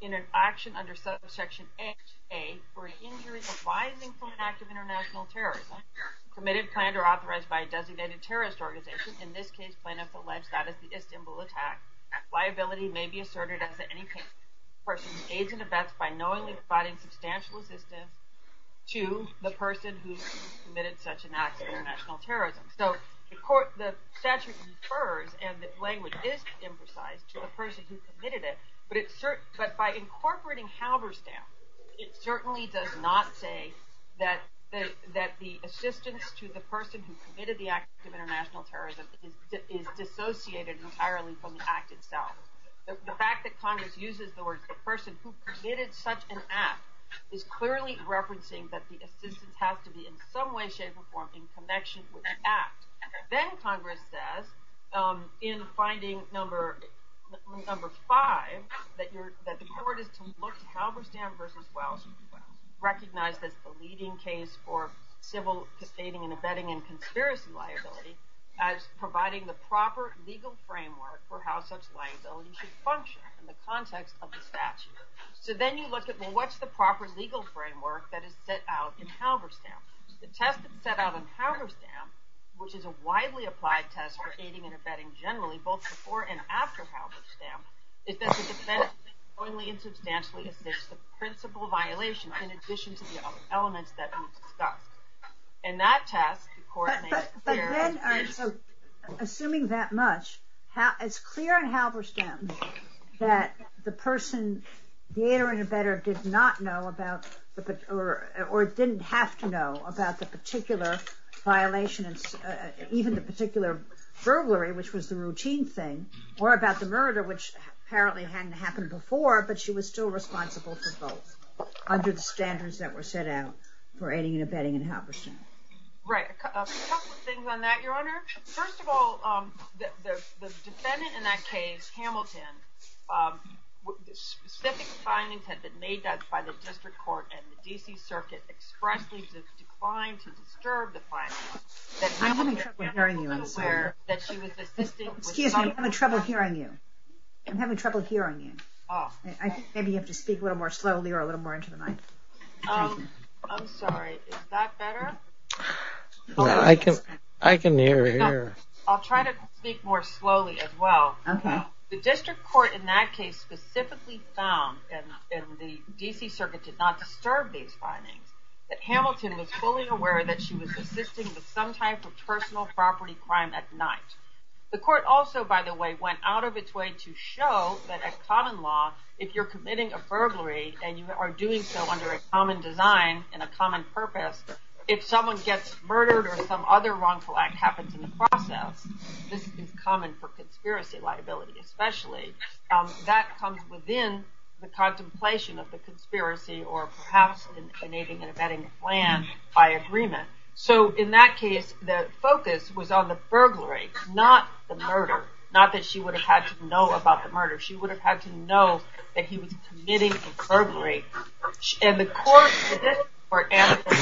in an action under Section XA for an injury arising from an act of international terrorism, committed, planned, or authorized by a designated terrorist organization. In this case, plaintiffs allege that in the Istanbul attack, liability may be asserted as to any person's age and effects by knowingly committing such an act of international terrorism. So the statute refers, and the language is emphasized, to the person who committed it. But by incorporating Halberstadt, it certainly does not say that the assistance to the person who committed the act of international terrorism is dissociated entirely from the act itself. The fact that Congress uses the word the person who committed such an act is clearly referencing that the assistance has to be in some way, shape, or form in connection with the act. Then Congress says, in finding number five, that the court has looked at Halberstadt v. Welch, recognized that it's a leading case for civil, defaming, and abetting and conspiracy liability as providing the proper legal framework for how such liability should function in the context of the statute. So then you look at what's the proper legal framework that is set out in Halberstadt. The test that's set out in Halberstadt, which is a widely applied test for aiding and abetting generally, both before and after Halberstadt, is that the defense jointly and substantially admits the principal violation in addition to the other elements that are discussed. And that test, the court made it clear. Assuming that much, it's clear in Halberstadt that the person, the heir and abetter did not know about, or didn't have to know about the particular violation, even the particular burglary, which was the routine thing or about the murder, which apparently hadn't happened before, but she was still responsible for both under the standards that were set out for aiding and abetting in Halberstadt. Right. A couple of things on that, your honor. First of all, the defendant in that case, Hamilton, specific findings had been made that by the district court and the DC circuit. It's correct. This is fine to serve the client. I'm having trouble hearing you. I'm having trouble hearing you. I think maybe you have to speak a little more slowly or a little more into the mic. I'm sorry. Is that better? I can, I can hear you. I'll try to speak more slowly as well. The district court in that case, specifically found in the DC circuit did not disturb these findings, but Hamilton was fully aware that she was assisting with some type of personal property crime at night. The court also, by the way, went out of its way to show that a common law, if you're committing a burglary and you are doing so under a common design and a common purpose, if someone gets murdered or some other wrongful act happens in the process, this is common for conspiracy liability, especially that comes within the contemplation of the conspiracy or perhaps an aging and abetting plan by agreement. So in that case, the focus was on the burglary, not the murder, not that she would have had to know about the murder. She would have had to know that he was committing a burglary. And the court, for Hamilton,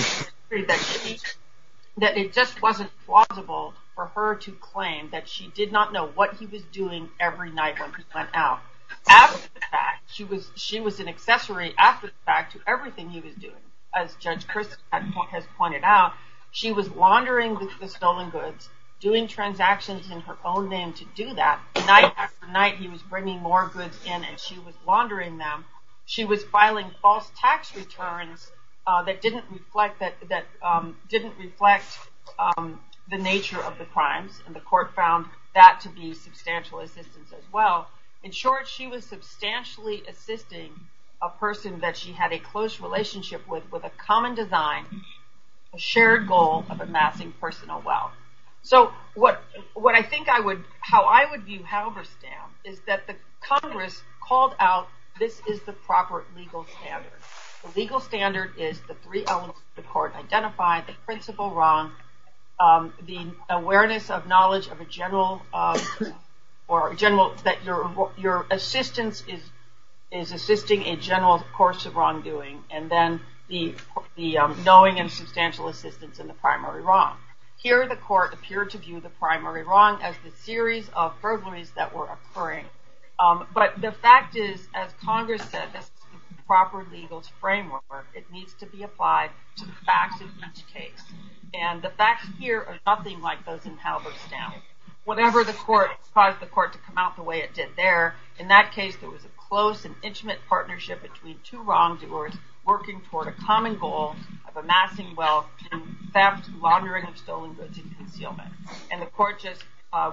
that it just wasn't plausible for her to claim that she did not know what he was doing every night when he went out. After the fact, she was an accessory after the fact to everything he was doing. As Judge Curtis has pointed out, she was laundering the stolen goods, doing transactions in her own name to do that. Night after night, he was bringing more goods in and she was laundering them. She was filing false tax returns that didn't reflect that, that didn't reflect the nature of the crime. And the court found that to be substantial assistance as well. In short, she was substantially assisting a person that she had a close relationship with, with a common design, a shared goal of amassing personal wealth. So what, what I think I would, how I would view Halberstam is that the Congress called out, this is the proper legal standard. The legal standard is the three elements the court identified, the principal wrong, the awareness of knowledge of a general, or general, that your, your assistance is, is assisting a general course of wrongdoing. And then the, the knowing and substantial assistance in the primary wrong. Here, the court appeared to view the primary wrong as a series of burglaries that were occurring. But the fact is, as Congress said, proper legal framework, it needs to be applied to the facts of each case. And the facts here are nothing like those in Halberstam. Whatever the court, caused the court to come out the way it did there. In that case, it was a close and intimate partnership between two wrongdoers working toward a common goal of amassing wealth and theft, laundering of stolen goods and concealment. And the court just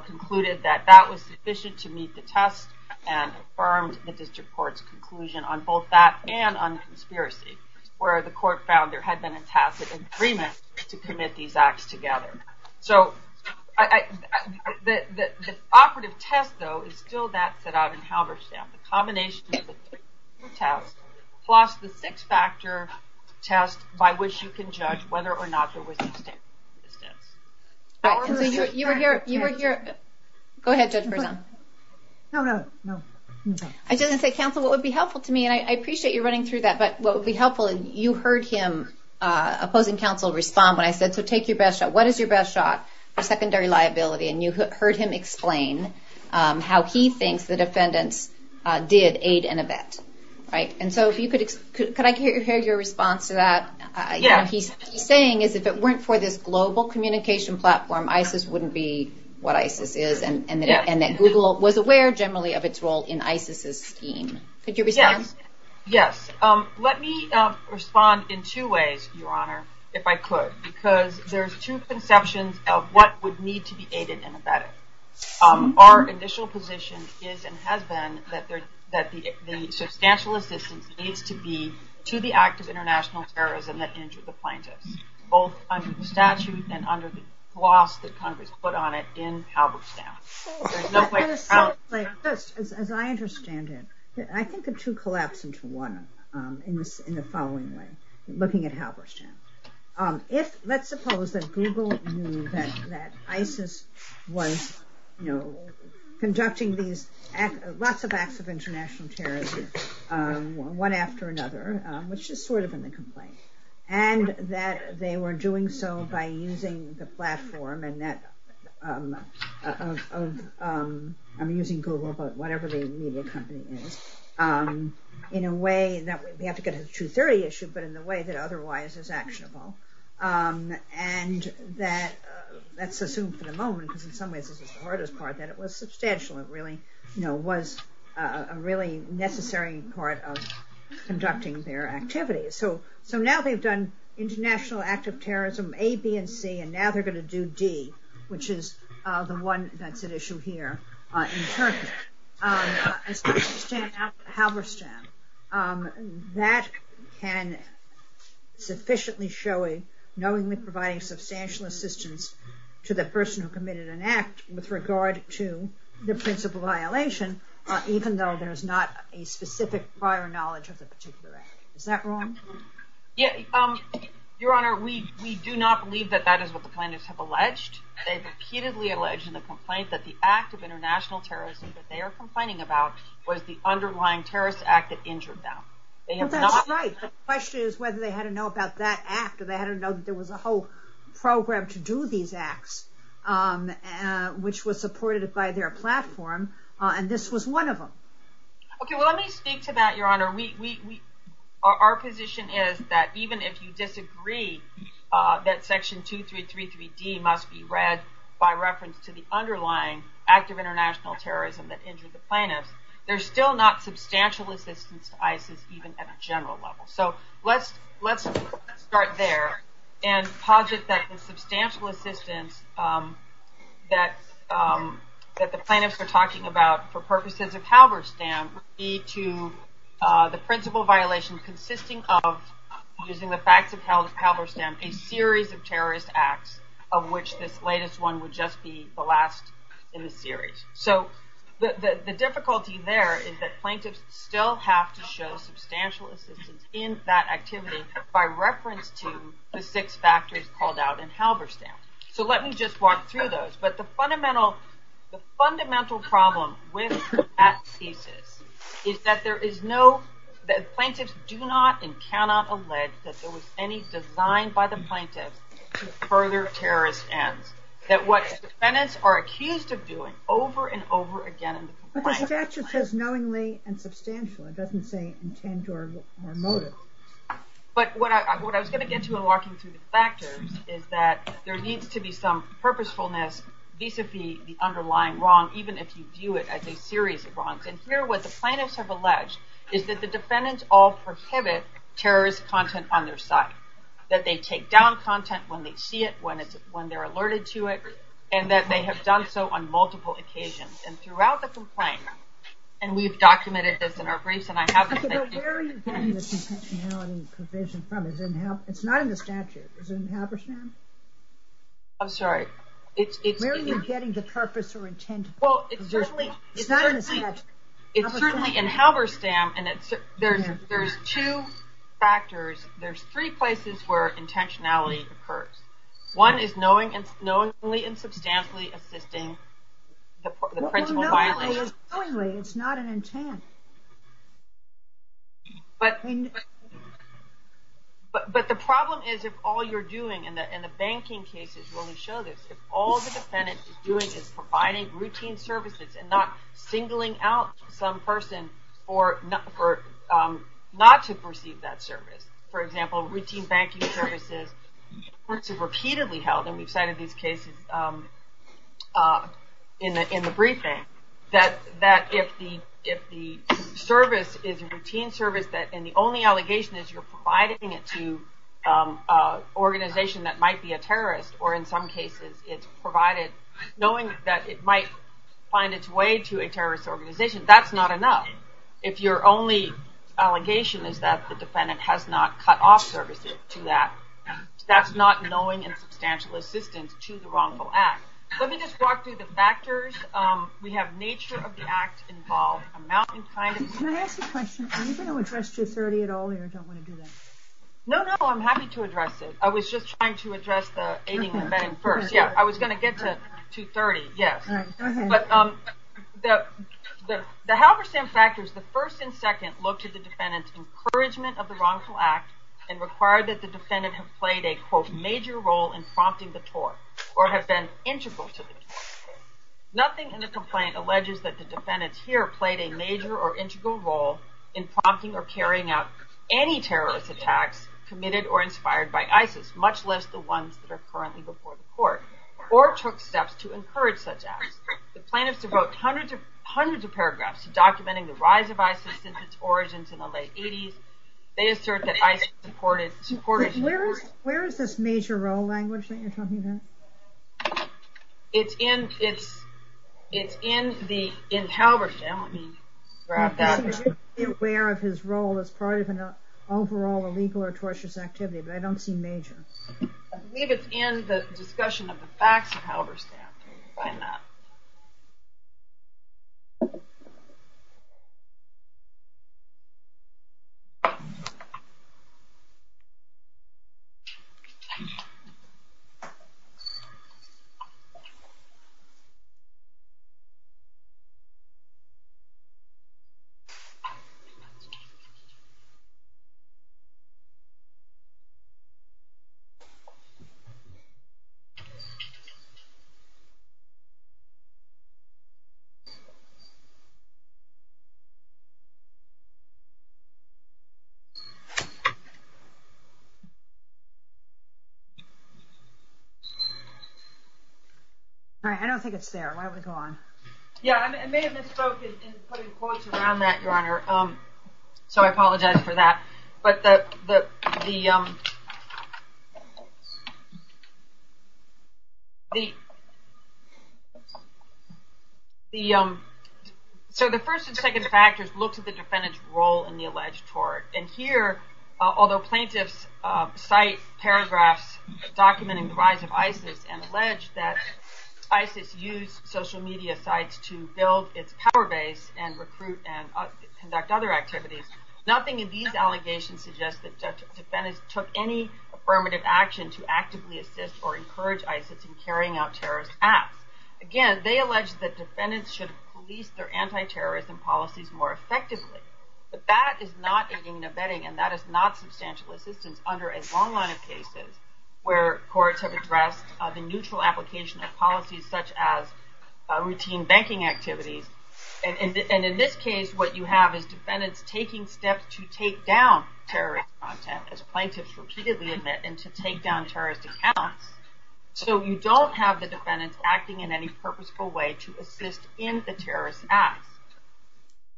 concluded that that was sufficient to meet the test and affirmed the district court's conclusion on both that and on the conspiracy where the court found there had been a tacit agreement to commit these acts together. So I, the operative test though, is still that set out in Halberstam. The combination plus the six factor test by which you can judge whether or not there was. You were here, you were here. Go ahead. No, no, no. I didn't say counsel. What would be helpful to me? And I appreciate you running through that, but what would be helpful is you heard him opposing counsel respond. I said, so take your best shot. What is your best shot? Secondary liability. And you heard him explain how he thinks the defendants, did aid and abet. Right. And so if you could, could I hear your response to that? He's saying is, if it weren't for this global communication platform, Isis wouldn't be what Isis is. And then Google was aware generally of its role in Isis's scheme. Could you respond? Yes. Let me respond in two ways, Your Honor, if I could, because there's two conceptions of what would need to be aided and abetted. Our initial position is, and has been, that the substantial assistance needs to be to the act of international terrorism that injured the plaintiffs. Both under the statute and under the laws that Congress put on it in Halberstam. There's no way. First, as I understand it, I think the two collapse into one in the following way. Looking at Halberstam. Let's suppose that Google knew that Isis was, you know, conducting these lots of acts of international terrorism, one after another, which is sort of in the complaint, and that they were doing so by using the platform, and that I'm using Google, but whatever the legal company is, in a way that we have to get a 230 issue, but in a way that otherwise is actionable. And that, let's assume for the moment, in some ways, that it was substantial. It really, you know, was a really necessary part of conducting their activities. So, so now they've done international act of terrorism, A, B, and C, and now they're going to do D, which is the one that's an issue here. Halberstam. That can sufficiently show, knowingly providing substantial assistance to the person who committed an act, with regard to the principle violation, even though there's not a specific prior knowledge of the particular act. Is that wrong? Yes, Your Honor, we do not believe that that is what the plaintiffs have alleged. They've repeatedly alleged in the complaint that the act of international terrorism that they are complaining about, was the underlying terrorist act that injured them. The question is whether they had to know about that act, or they had to know that there was a whole program to do these acts, which was supported by their platform. And this was one of them. Okay, well, let me speak to that. Your Honor, we, our position is that even if you disagree, that section two, three D must be read by reference to the underlying act of international terrorism, that injured the plaintiff, there's still not substantial assistance to ISIS, even at a general level. So, let's start there, and posit that the substantial assistance that the plaintiffs are talking about, for purposes of Halberstam, would lead to the principle violation consisting of, using the facts of Halberstam, a series of terrorist acts, of which this latest one would just be the last in the series. So, the difficulty there is that plaintiffs still have to show substantial assistance in that activity, by reference to the six factors called out in Halberstam. So, let me just walk through those. But the fundamental, the fundamental problem with that thesis, is that there is no, that plaintiffs do not and cannot allege that there was any design by the plaintiff, to further terrorist ends. That what defendants are accused of doing, over and over again. The statute says knowingly and substantially, it doesn't say intent or motive. But what I was going to get to in walking through the factors, is that there needs to be some purposefulness, vis-a-vis the underlying wrong, even if you view it as a series of wrongs. And here, what the plaintiffs have alleged, is that the defendants all prohibit terrorist content on their site. That they take down content when they see it, when they're alerted to it, and that they have done so on multiple occasions. And throughout the complaint, and we've documented this in our briefs, and I have to say- But where are you getting the intentionality provision from? It's not in the statute. Is it in Halberstam? I'm sorry. Where are you getting the purpose or intention? Well, it's certainly- It's not in the statute. It's certainly in Halberstam, and there's two factors. There's three places where intentionality occurs. One is knowingly and substantially assisting the principal violator. It's not an intent. But the problem is, if all you're doing, and the banking case is going to show this, if all the defendant is doing is providing routine services and not singling out some person not to receive that service, for example, routine banking services, this is repeatedly held, and we've cited these cases in the briefing, that if the service is a routine service and the only allegation is you're providing it to an organization that might be a terrorist, or in some cases, it's provided knowing that it might find its way to a terrorist organization, that's not enough. If your only allegation is that the defendant has not cut off services to that, that's not knowing and substantial assistance to the wrongful act. Let me just walk through the factors. We have nature of the act involved, amount of time- Can I ask a question? Are you going to address 230 at all here? I don't want to do that. No, no. I'm happy to address it. I was just trying to address the aiding and abetting first. I was going to get to 230, yes. The Halberstam factors, the first and second, look to the defendant's encouragement of the wrongful act and require that the defendant have played a, quote, major role in prompting the court, or have been integral to the complaint. Nothing in the complaint alleges that the defendant here played a major or integral role in prompting or carrying out any terrorist attack committed or inspired by ISIS, much less the ones that are currently before the court, or took steps to encourage such acts. The plaintiff devotes hundreds of paragraphs documenting the rise of ISIS since its origins in the late 80s. They assert that ISIS supported- Where is this major role language that you're talking about? It's in the Halberstam. Be aware of his role as part of an overall illegal or tortuous activity, but I don't see major. I believe it's in the discussion of the facts of Halberstam. Why not? All right, I don't think it's there. Why don't we go on? Yeah, it may have been spoken and put in quotes around that, Your Honor, so I apologize for that. So the first and second factors look at the defendant's role in the alleged tort. And here, although plaintiffs cite paragraphs documenting the rise of ISIS and allege that ISIS used social media sites to build its power base and recruit and conduct other activities, took any affirmative action to actively assist or encourage ISIS in carrying out terrorist acts. Again, they allege that defendants should police their anti-terrorism policies more effectively. But that is not in the vetting, and that is not substantial assistance under a long line of cases where courts have addressed the neutral application of policies such as routine banking activities. And in this case, what you have is defendants taking steps to take down terrorist content as plaintiffs repeatedly admit and to take down terrorist accounts. So you don't have the defendants acting in any purposeful way to assist in the terrorist act.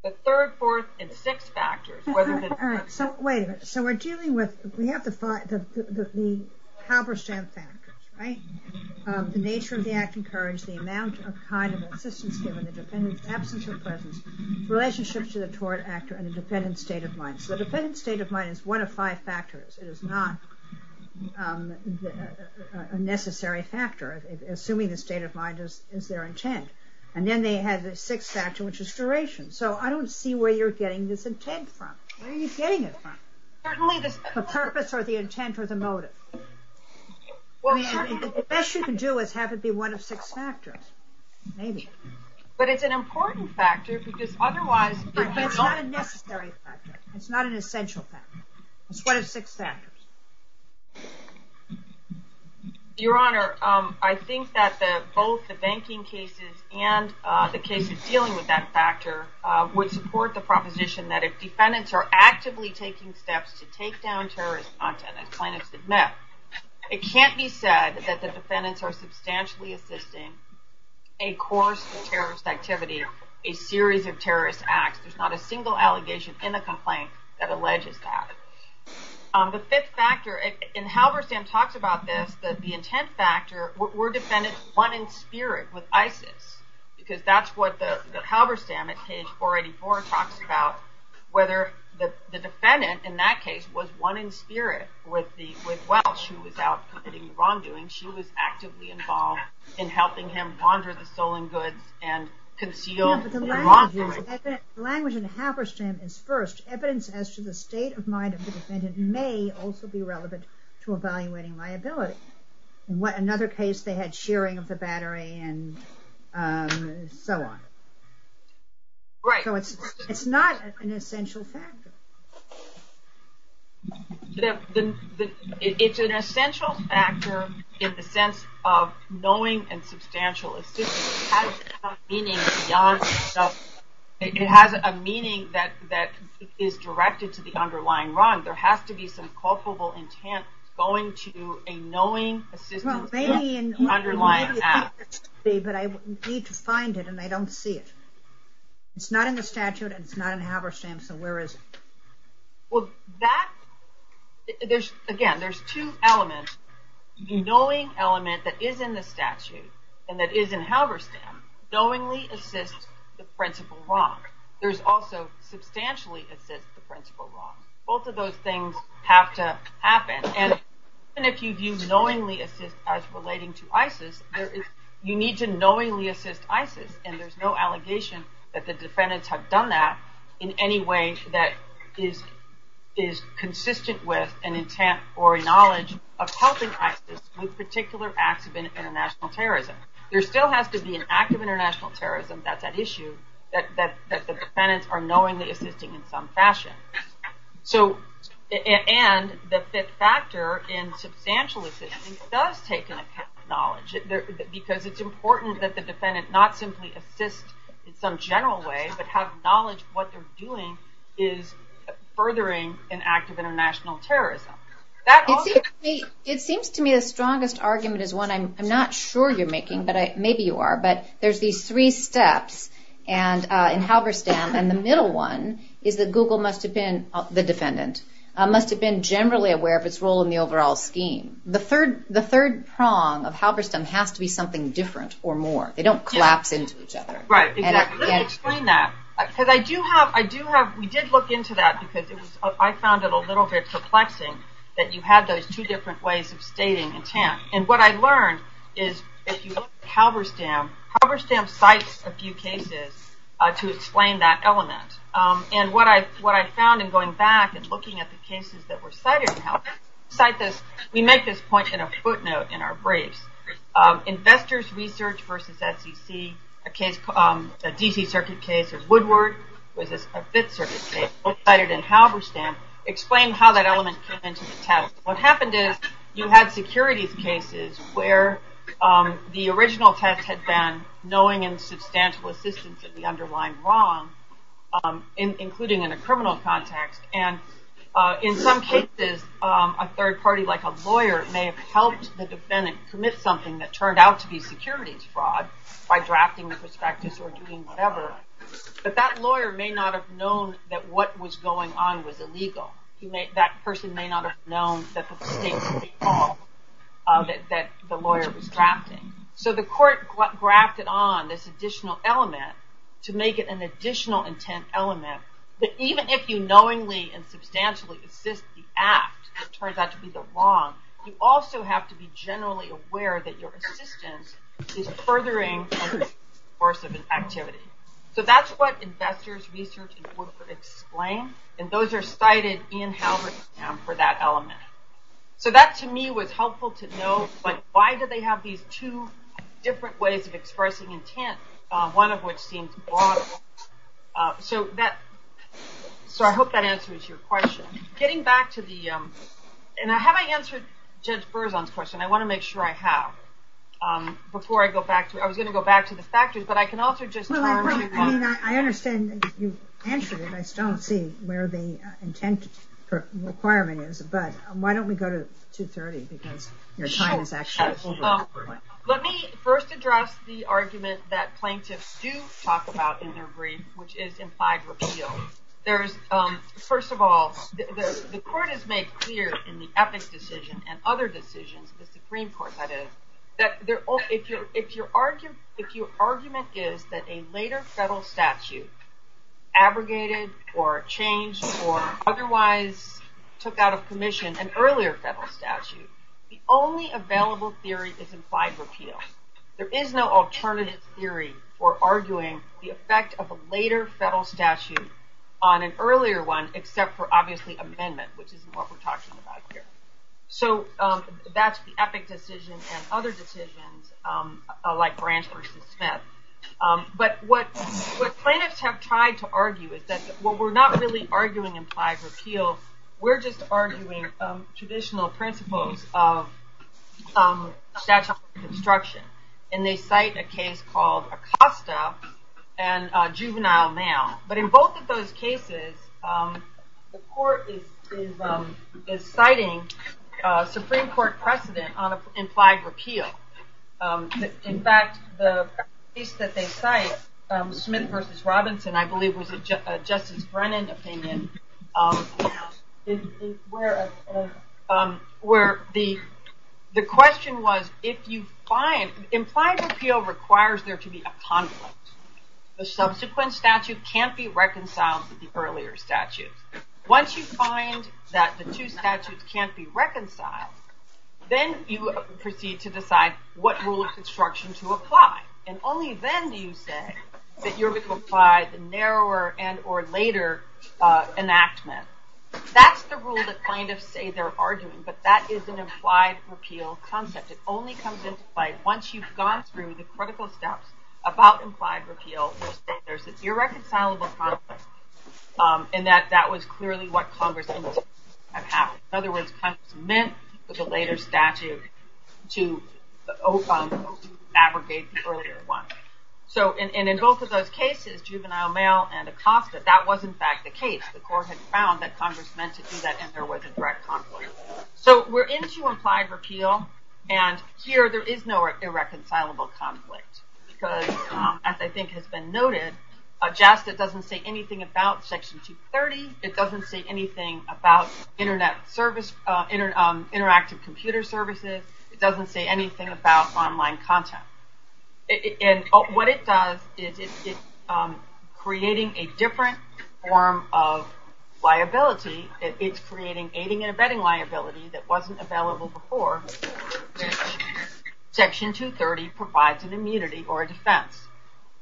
The third, fourth, and the sixth factors. All right, so wait a minute. So we're dealing with the Halberstam factors, right? The nature of the act encouraged the amount of kind of assistance given in the defendant's absence or presence, relationship to the tort actor, and the defendant's state of mind. The defendant's state of mind is one of five factors. It is not a necessary factor. Assuming the state of mind is their intent. And then they had the sixth factor, which is duration. So I don't see where you're getting this intent from. The purpose or the intent or the motive? Well, the best you can do is have it be one of six factors. Maybe. But it's an important factor because otherwise it's not a necessary factor. It's not an essential factor. It's one of six factors. Your Honor, I think that both the banking cases and the cases dealing with that factor would support the proposition that if defendants are actively taking steps to take down terrorist content and claim it's a myth, it can't be said that the defendants are substantially assisting a course of terrorist activity, a series of terrorist acts. There's not a single allegation in the complaint that alleges that. The fifth factor, and Halberstam talks about this, that the intent factor, were defendants one in spirit with ISIS? Because that's what the Halberstam at page 484 talks about, whether the defendant in that case was one in spirit with Welch who was out committing the wrongdoing. She was actively involved in helping him ponder the stolen goods and conceal the wrongdoing. The language in Halberstam is, first, evidence as to the state of mind of the defendant may also be relevant to evaluating liability. In another case, they had sharing of the battery and so on. Right. So it's not an essential factor. It's an essential factor in the sense of knowing and substantial assistance. It has a meaning beyond itself. It has a meaning that is directed to the underlying wrong. There has to be some culpable intent going to a knowing, persistent underlying act. But I need to find it and I don't see it. It's not in the statute and it's not in Halberstam, so where is it? Well, that, again, there's two elements. The knowing element that is in the statute and that is in Halberstam knowingly assists the principal wrong. There's also substantially assists the principal wrong. Both of those things have to happen. And even if you view knowingly assist as relating to ISIS, you need to knowingly assist ISIS. And there's no allegation that the defendants have done that in any way that is consistent with an intent or a knowledge of helping ISIS with particular acts of international terrorism. There still has to be an act of international terrorism at that issue that the defendants are knowingly assisting in some fashion. So, and the fifth factor in substantial assistance does take in a kind of knowledge because it's important that the defendant not simply assist in some general way but have knowledge of what they're doing is furthering an act of international terrorism. It seems to me the strongest argument is one I'm not sure you're making, but maybe you are, but there's these three steps in Halberstam and the middle one is that Google must have been, the defendant, must have been generally aware of its role in the overall scheme. The third prong of Halberstam has to be something different or more. They don't collapse into each other. Right, exactly. Explain that. Because I do have, we did look into that because I found it a little bit perplexing that you had those two different ways of stating intent. And what I learned is if you look at Halberstam, Halberstam cites a few cases to explain that element. And what I found in going back and looking at the cases that were cited in Halberstam, we make this point in a footnote in our brief. Investors Research versus SEC, a DP circuit case is Woodward, which is a fifth circuit case, both cited in Halberstam, explain how that element came into the test. What happened is you have security cases where the original test had been knowing and substantial assistance of the underlying wrong, including in a criminal context. And in some cases, a third party like a lawyer may have helped the defendant commit something that turned out to be securities fraud by drafting the practice or doing whatever. But that lawyer may not have known that what was going on was illegal. That person may not have known that the state was involved, that the lawyer was drafting. So the court grafted on this additional element to make it an additional intent element that even if you knowingly and substantially assist the act that turns out to be the wrong, you also have to be generally aware that your assistance is furthering the course of an activity. So that's what Investors Research and Woodward explain, and those are cited in Halberstam for that element. So that to me was helpful to know, like why do they have these two different ways of expressing intent, one of which being fraud. So I hope that answers your question. Getting back to the, and have I answered Judge Berzon's question? I want to make sure I have. Before I go back to, I was going to go back to the factors, but I can also just. I understand that you've answered it, I just don't see where the intent requirement is, but why don't we go to 2.30? Let me first address the argument that plaintiffs do talk about in their brief, which is implied repeal. There's, first of all, the court has made clear in the ethics decision and other decisions, the Supreme Court that is, that if your argument is that a later federal statute abrogated or changed or otherwise took out of commission an earlier federal statute, the only available theory is implied repeal. There is no alternative theory for arguing the effect of a later federal statute on an earlier one except for obviously amendments, which is what we're talking about here. So that's the ethics decision and other decisions, like Branch v. Smith. But what plaintiffs have tried to argue is that we're not really arguing implied repeal, we're just arguing traditional principles of statutory construction. And they cite a case called Acosta and Juvenile Now. But in both of those cases, the court is citing Supreme Court precedent on implied repeal. In fact, the case that they cite, Smith v. Robinson, I believe, was a Justice Brennan opinion, where the question was if you find, implied repeal requires there to be a conflict. The subsequent statute can't be reconciled to the earlier statute. Once you find that the two statutes can't be reconciled, then you proceed to decide what rule of construction to apply. And only then do you say that you're going to apply the narrower and or later enactment. That's the rule that plaintiffs say they're arguing, but that is an implied repeal concept. It only comes into play once you've gone through the critical steps about implied repeal where there's this irreconcilable concept and that that was clearly what Congress needed. In other words, Smith was a later statute, to O-fung, to abrogate the earlier one. And in both of those cases, juvenile mail and a cockpit, that was in fact the case. The court had found that Congress meant to do that and there was a direct conflict. So we're into implied repeal, and here there is no irreconcilable conflict. Because as I think has been noted, a Justice doesn't say anything about Section 230, it doesn't say anything about Interactive Computer Services, it doesn't say anything about online content. And what it does is it's creating a different form of liability. It's creating aiding and abetting liability that wasn't available before. Section 230 provides an immunity or a defense.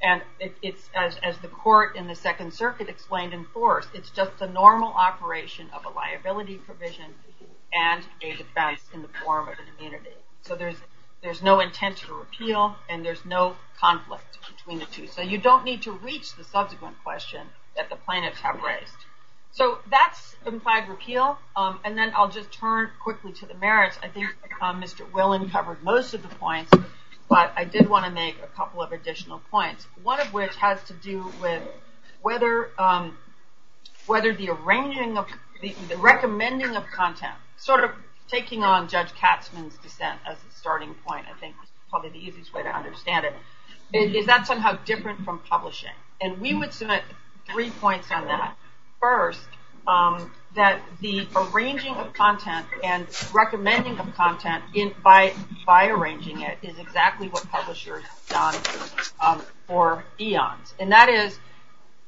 And as the court in the Second Circuit explained in force, it's just the normal operation of a liability provision and a defense in the form of immunity. So there's no intent to repeal and there's no conflict between the two. So you don't need to reach the subsequent question that the plaintiffs have raised. So that's implied repeal. And then I'll just turn quickly to the merits. I think Mr. Willen covered most of the points, but I did want to make a couple of additional points. One of which has to do with whether the arranging of, the recommending of content, sort of taking on Judge Katzmann's defense as a starting point, I think probably the easiest way to understand it, is that somehow different from publishing. And we would submit three points on that. First, that the arranging of content and recommending of content by arranging it is exactly what publishers have done for eons. And that is,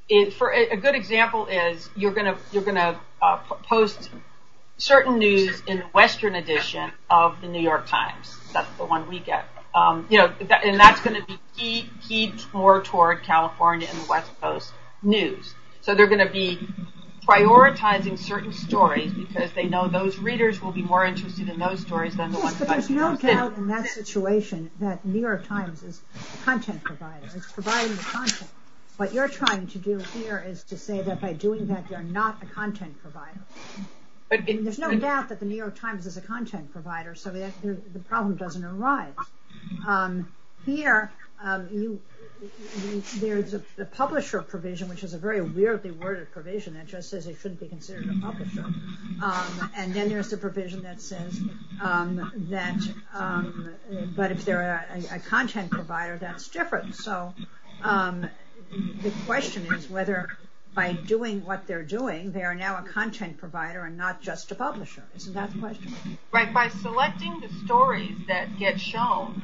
a good example is, you're going to post certain news in the Western edition of the New York Times. That's the one we get. And that's going to be more toward California and the West Coast news. So they're going to be prioritizing certain stories because they know those readers will be more interested in those stories than the ones in Western. But you don't tell in that situation that New York Times is a content provider. It's providing content. What you're trying to do here is to say that by doing that, you're not a content provider. There's no doubt that the New York Times is a content provider, so the problem doesn't arise. Here, there's a publisher provision, which is a very weirdly worded provision that just says you shouldn't be considered a publisher. And then there's the provision that says that, but if they're a content provider, that's different. So the question is whether by doing what they're doing, they are now a content provider and not just a publisher. Isn't that the question? Right. By selecting the stories that get shown,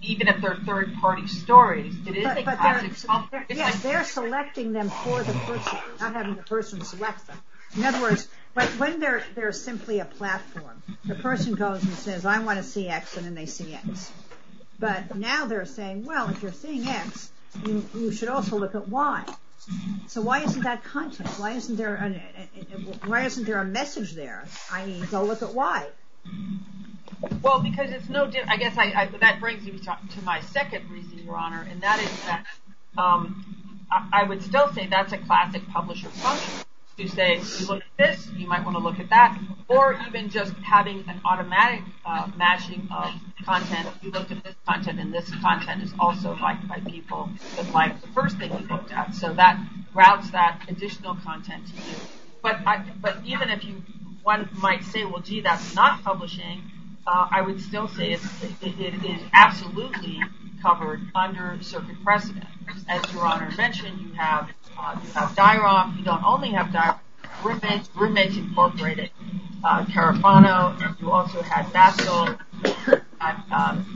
even if they're third-party stories, it is a content provider. Yes, they're selecting them for the person. I'm having the person select them. In other words, but when they're simply a platform, the person goes and says, I want to see X, and then they see X. But now they're saying, well, if you're seeing X, you should also look at Y. So why isn't that content? Why isn't there a message there? I mean, go look at Y. Well, because it's no different. I guess that brings me to my second reason, Your Honor, and that is that I would still say that's a classic publisher function to say you look at this, you might want to look at that, or even just having an automatic matching of content. You look at this content, and this content is also liked by people who like the first thing you look at. So that routes that additional content to you. But even if one might say, well, gee, that's not publishing, I would still say it is absolutely covered under circuit precedent. As Your Honor mentioned, you have dialogue. You don't only have dialogue. You also have roommates. Roommates are incorporated. Tarifano, you also have Daschle, you have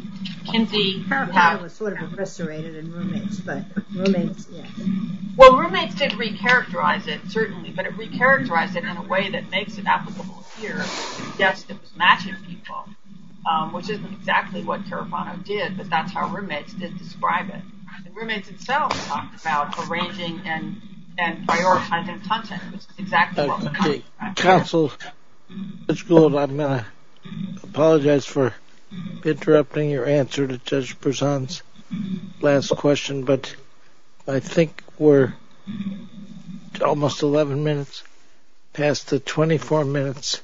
Kinsey. Tarifano was sort of incarcerated in roommates, but roommates, yeah. Well, roommates did re-characterize it, certainly, but it re-characterized it in a way that makes it applicable here to suggest it matches people, which is exactly what Tarifano did, but that's how roommates just describe it. And roommates itself talks about arranging and prioritizing content. That's exactly what Tarifano does. Counsel, Ms. Gould, I'm going to apologize for interrupting your answer to Judge Berzon's last question, but I think we're almost 11 minutes past the 24 minutes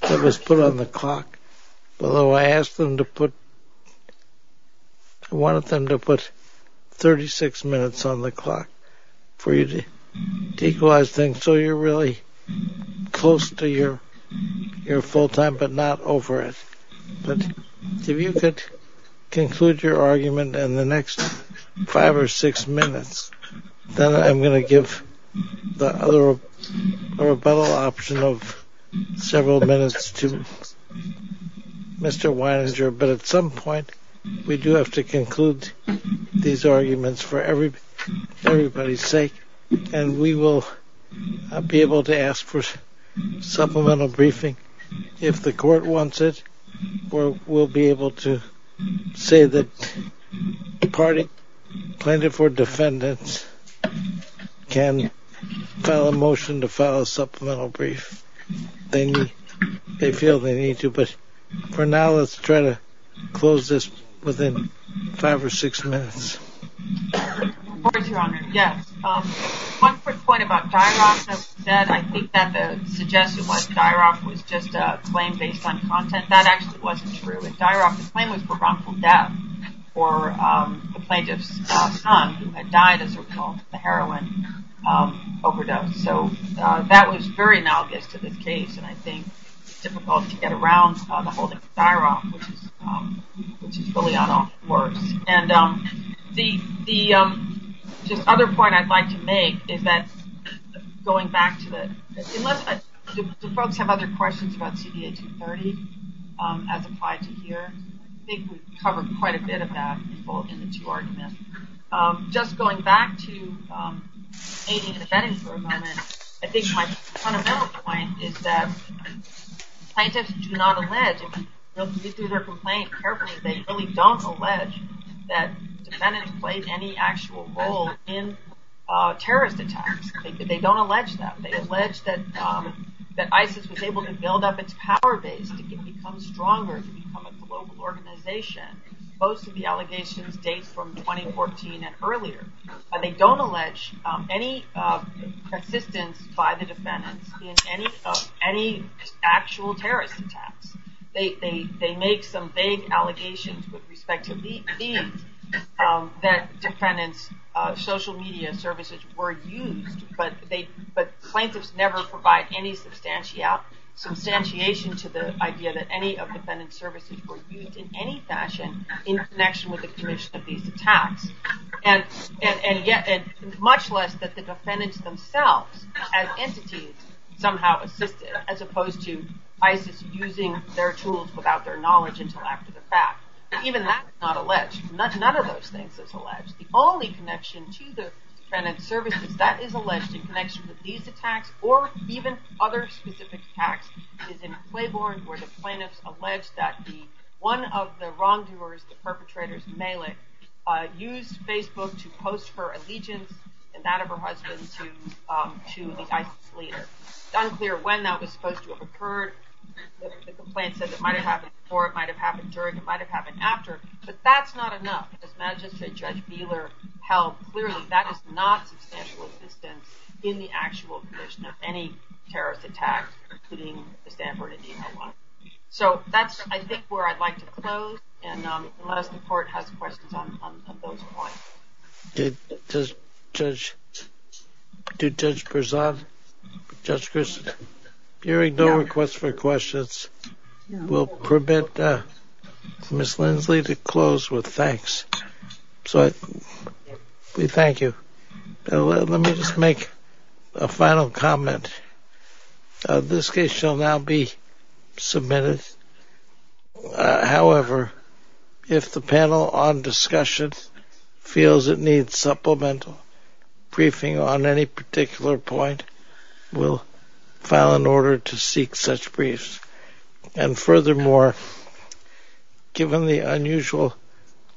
that was put on the clock. Although I asked them to put, I wanted them to put 36 minutes on the clock for you to equalize things so you're really close to your full time but not over it. But if you could conclude your argument in the next five or six minutes, then I'm going to give the other, the rebuttal option of several minutes to Mr. Weininger, but at some point we do have to conclude these arguments for everybody's sake, and we will be able to ask for supplemental briefing. If the court wants it, we'll be able to say that the party planted for defendants can file a motion to file a supplemental brief. They feel they need to, but for now, let's try to close this within five or six minutes. Yes. One quick point about Dyerock, as you said, I think that the suggestion was Dyerock was just a claim based on content. That actually wasn't true. Dyerock's claim was for wrongful death for a plaintiff's son who had died of heroin overdose. So that was very maldictive of the case, and I think it's difficult to get around the whole thing with Dyerock, which is fully unlawful work. And the other point I'd like to make is that going back to the- unless the folks have other questions about CD8 and 30 as applied to here, I think we've covered quite a bit of that in the two arguments. Just going back to aiding and abetting for a moment, I think my fundamental point is that plaintiffs do not allege, if you look through their complaint carefully, they really don't allege that defendants played any actual role in terrorist attacks. They don't allege that. They allege that ISIS was able to build up its power base to become stronger, to become a global organization. Most of the allegations date from 2014 and earlier. They don't allege any persistence by the defendants in any actual terrorist attacks. They make some vague allegations with respect to DT that defendants' social media services were used, but plaintiffs never provide any substantiation to the idea that any of the defendants' services were used in any fashion in connection with the commission of these attacks. And yet, much less that the defendants themselves as entities somehow assisted, as opposed to ISIS using their tools without their knowledge, intellect, or the facts. Even that is not alleged. None of those things is alleged. The only connection to the defendants' services that is alleged in connection with these attacks or even other specific attacks is in Claiborne, where the plaintiffs allege that one of the wrongdoers, the perpetrators, Malik, used Facebook to post her allegiance and that of her husband to the ISIS leader. It's unclear when that was supposed to have occurred. The complaint says it might have happened before, it might have happened during, it might have happened after, but that's not enough. Imagine Judge Wheeler held clearly that is not substantial assistance in the actual commission of any terrorist attack, including the Sanford and D.C. ones. So that's, I think, where I'd like to close, and let us support other questions on those points. Judge Perzan, Judge Grist, hearing no requests for questions will prevent Ms. Lindsley to close with thanks. So we thank you. Let me just make a final comment. This case shall now be submitted. However, if the panel on discussion feels it needs supplemental briefing on any particular point, we'll file an order to seek such briefs. And furthermore, given the unusual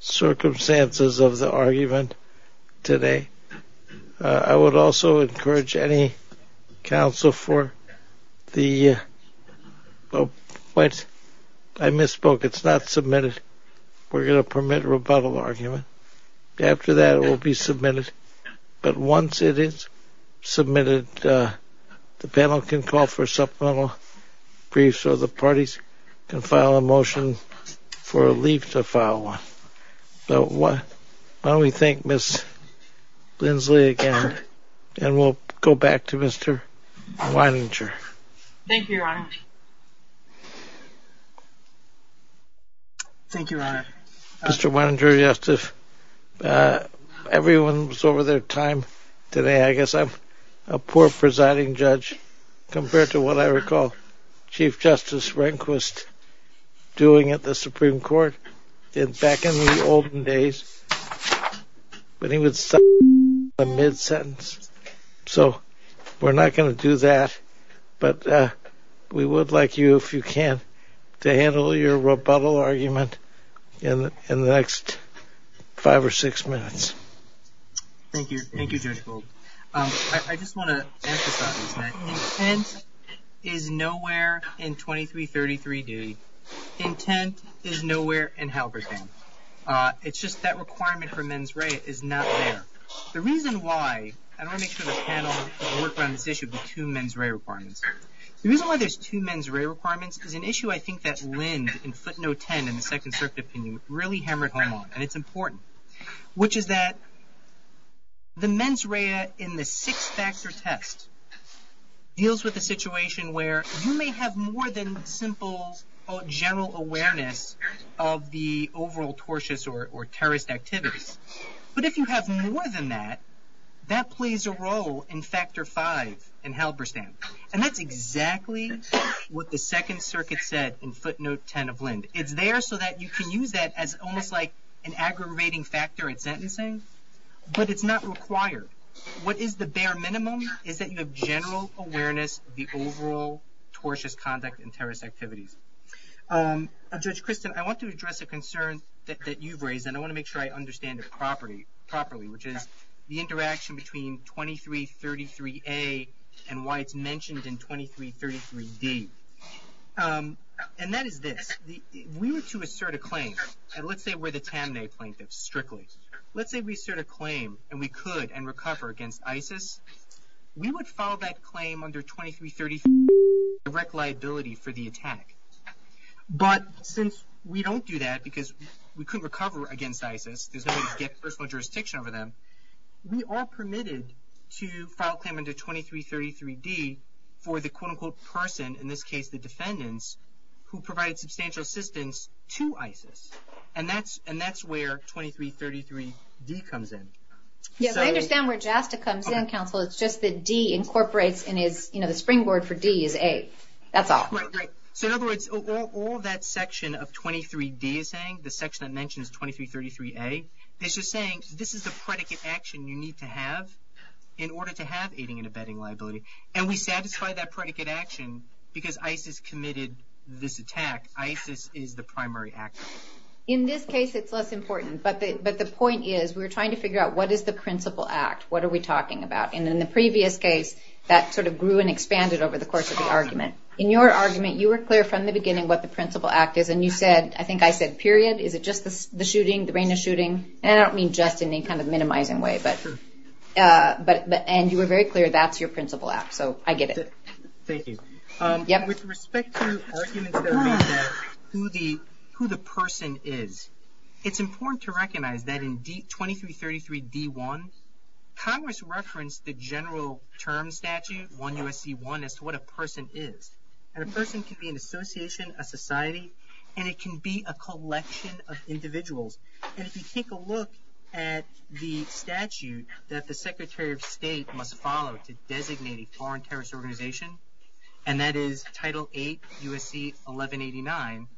circumstances of the argument today, I would also encourage any counsel to call for the, I misspoke. It's not submitted. We're going to permit a rebuttal argument. After that, it will be submitted. But once it is submitted, the panel can call for supplemental briefs so the parties can file a motion for a leave to file one. So why don't we thank Ms. Lindsley again, and we'll go back to Mr. Weininger. Thank you, Your Honor. Thank you, Your Honor. Mr. Weininger, everyone was over their time today. I guess I'm a poor presiding judge compared to what I recall Chief Justice Rehnquist doing at the Supreme Court back in the olden days when he would stop the mid-sentence. So we're not going to do that, but we would like you, if you can, to handle your rebuttal argument in the next five or six minutes. Thank you, Judge Gold. I just want to emphasize that intent is nowhere in 2333-D. Intent is nowhere in Halberstam. It's just that requirement for mens rea is not there. The reason why, I want to make sure the panel has worked on this issue, the two mens rea requirements. The reason why there's two mens rea requirements is an issue I think that Linds in footnote 10 in the second circuit opinion really hammered home on, and it's important, which is that the mens rea in the six-factor test deals with a situation where you may have more than a simple general awareness of the overall tortious or terrorist activity. But if you have more than that, that plays a role in factor five in Halberstam. And that's exactly what the second circuit said in footnote 10 of Lind. It's there so that you can use that as almost like an aggravating factor in sentencing, but it's not required. What is the bare minimum is that you have general awareness of the overall tortious conduct and terrorist activity. Judge Christin, I want to address a concern that you've raised, and I want to make sure I understand it properly, which is the interaction between 2333A and why it's mentioned in 2333D. And that is this. We were to assert a claim, and let's say we're the Tamnay plaintiff strictly. Let's say we assert a claim and we could and recover against ISIS. We would file that claim under 2333D direct liability for the attack. But since we don't do that because we couldn't recover against ISIS, because they would get personal jurisdiction over them, we are permitted to file a claim under 2333D for the quote-unquote person, in this case the defendants, who provided substantial assistance to ISIS. And that's where 2333D comes in. Yes, I understand where JASTA comes in, counsel. It's just that D incorporates, and the springboard for D is A. That's all. Right, right. So in other words, all that section of 23D is saying, the section that mentions 2333A, it's just saying this is a predicate action you need to have in order to have aiding and abetting liability. And we satisfy that predicate action because ISIS committed this attack. ISIS is the primary actor. In this case, it's less important. But the point is, we're trying to figure out what is the principal act? What are we talking about? And in the previous case, that sort of grew and expanded over the course of the argument. In your argument, you were clear from the beginning what the principal act is, and you said, I think I said, period. Is it just the shooting, the rain of shooting? And I don't mean just in any kind of minimizing way, but you were very clear that's your principal act. So I get it. Thank you. With respect to the argument that I made about who the person is, it's important to recognize that in 2333D1, Congress referenced the general term statute, 1 U.S.C. 1, as to what a person is. And a person can be an association, a society, and it can be a collection of individuals. And if you take a look at the statute that the Secretary of State must follow to designate a foreign terrorist organization, and that is Title 8 U.S.C. 1189,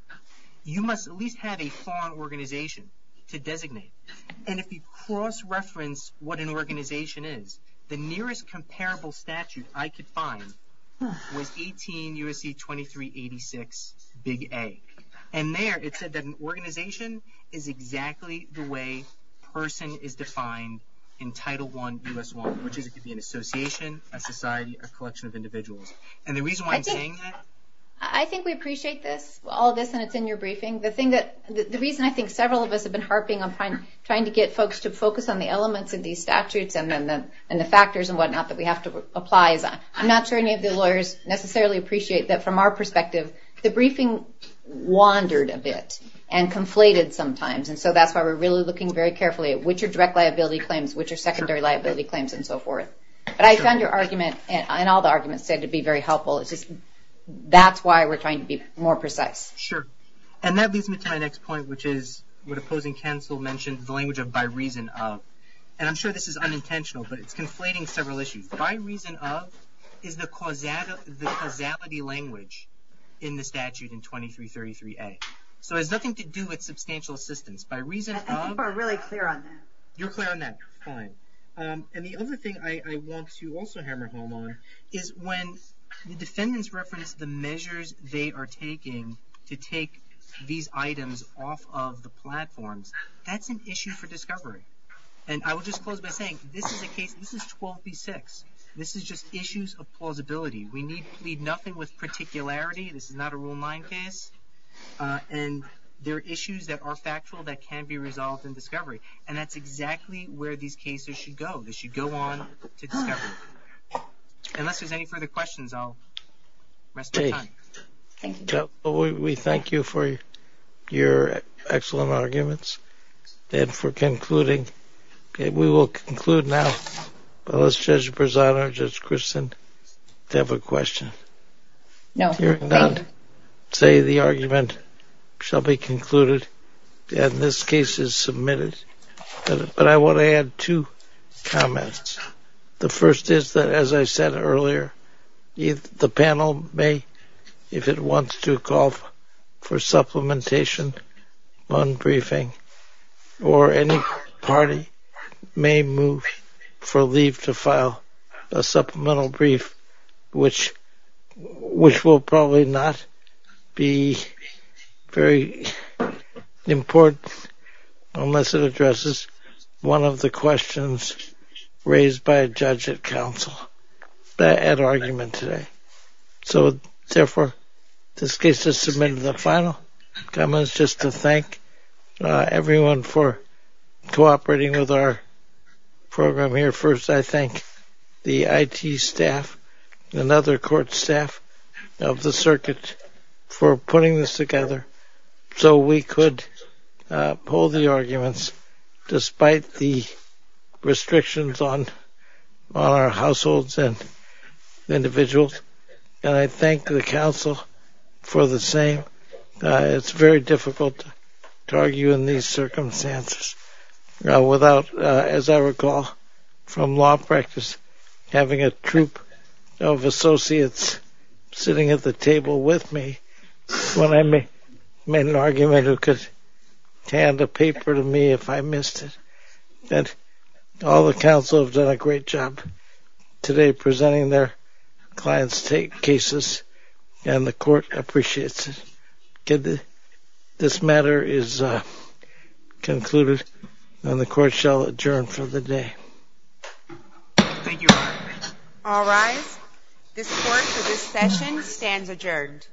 you must at least have a foreign organization to designate. And if you cross-reference what an organization is, the nearest comparable statute I could find was 18 U.S.C. 2386, Big A. And there it said that an organization is exactly the way person is defined in Title 1 U.S. 1, which is it could be an association, a society, a collection of individuals. I think we appreciate all this and it's in your briefing. The reason I think several of us have been harping on trying to get folks to focus on the elements of these statutes and the factors and whatnot that we have to apply, but I'm not sure any of the lawyers necessarily appreciate that from our perspective, the briefing wandered a bit and conflated sometimes. And so that's why we're really looking very carefully at which are direct liability claims, which are secondary liability claims, and so forth. But I found your argument and all the arguments there to be very helpful. That's why we're trying to be more precise. Sure. And that leads me to my next point, which is what opposing counsel mentioned, the language of by reason of. And I'm sure this is unintentional, but it's conflating several issues. By reason of is the causality language in the statute in 2333A. So it has nothing to do with substantial assistance. By reason of... I think people are really clear on that. You're clear on that. Fine. And the other thing I want to also hammer home on is when the defendants reference the measures they are taking to take these items off of the platform, that's an issue for discovery. And I will just close by saying this is 12B6. This is just issues of plausibility. We need nothing with particularity. This is not a rule of mind case. And there are issues that are factual that can be resolved in discovery, and that's exactly where these cases should go. They should go on to discovery. Unless there's any further questions, I'll rest my time. Okay. Thank you. We thank you for your excellent arguments and for concluding. Okay. We will conclude now. Will Judge Berzano, Judge Christin, have a question? No. Hearing none, today the argument shall be concluded. And this case is submitted. But I want to add two comments. The first is that, as I said earlier, the panel may, if it wants to, call for supplementation on briefing, or any party may move for leave to file a supplemental brief, which will probably not be very important unless it addresses one of the questions raised by a judge at counsel at argument today. So, therefore, this case is submitted. The final comment is just to thank everyone for cooperating with our program here. First, I thank the IT staff and other court staff of the circuit for putting this together so we could pull the arguments despite the restrictions on our households and individuals. And I thank the counsel for the same. It's very difficult to argue in these circumstances without, as I recall, from law practice, having a troupe of associates sitting at the table with me when I made an argument who could hand a paper to me if I missed it. All the counsel have done a great job today presenting their clients' cases, and the court appreciates it. This matter is concluded, and the court shall adjourn for the day. Thank you. All rise. This court for this session stands adjourned.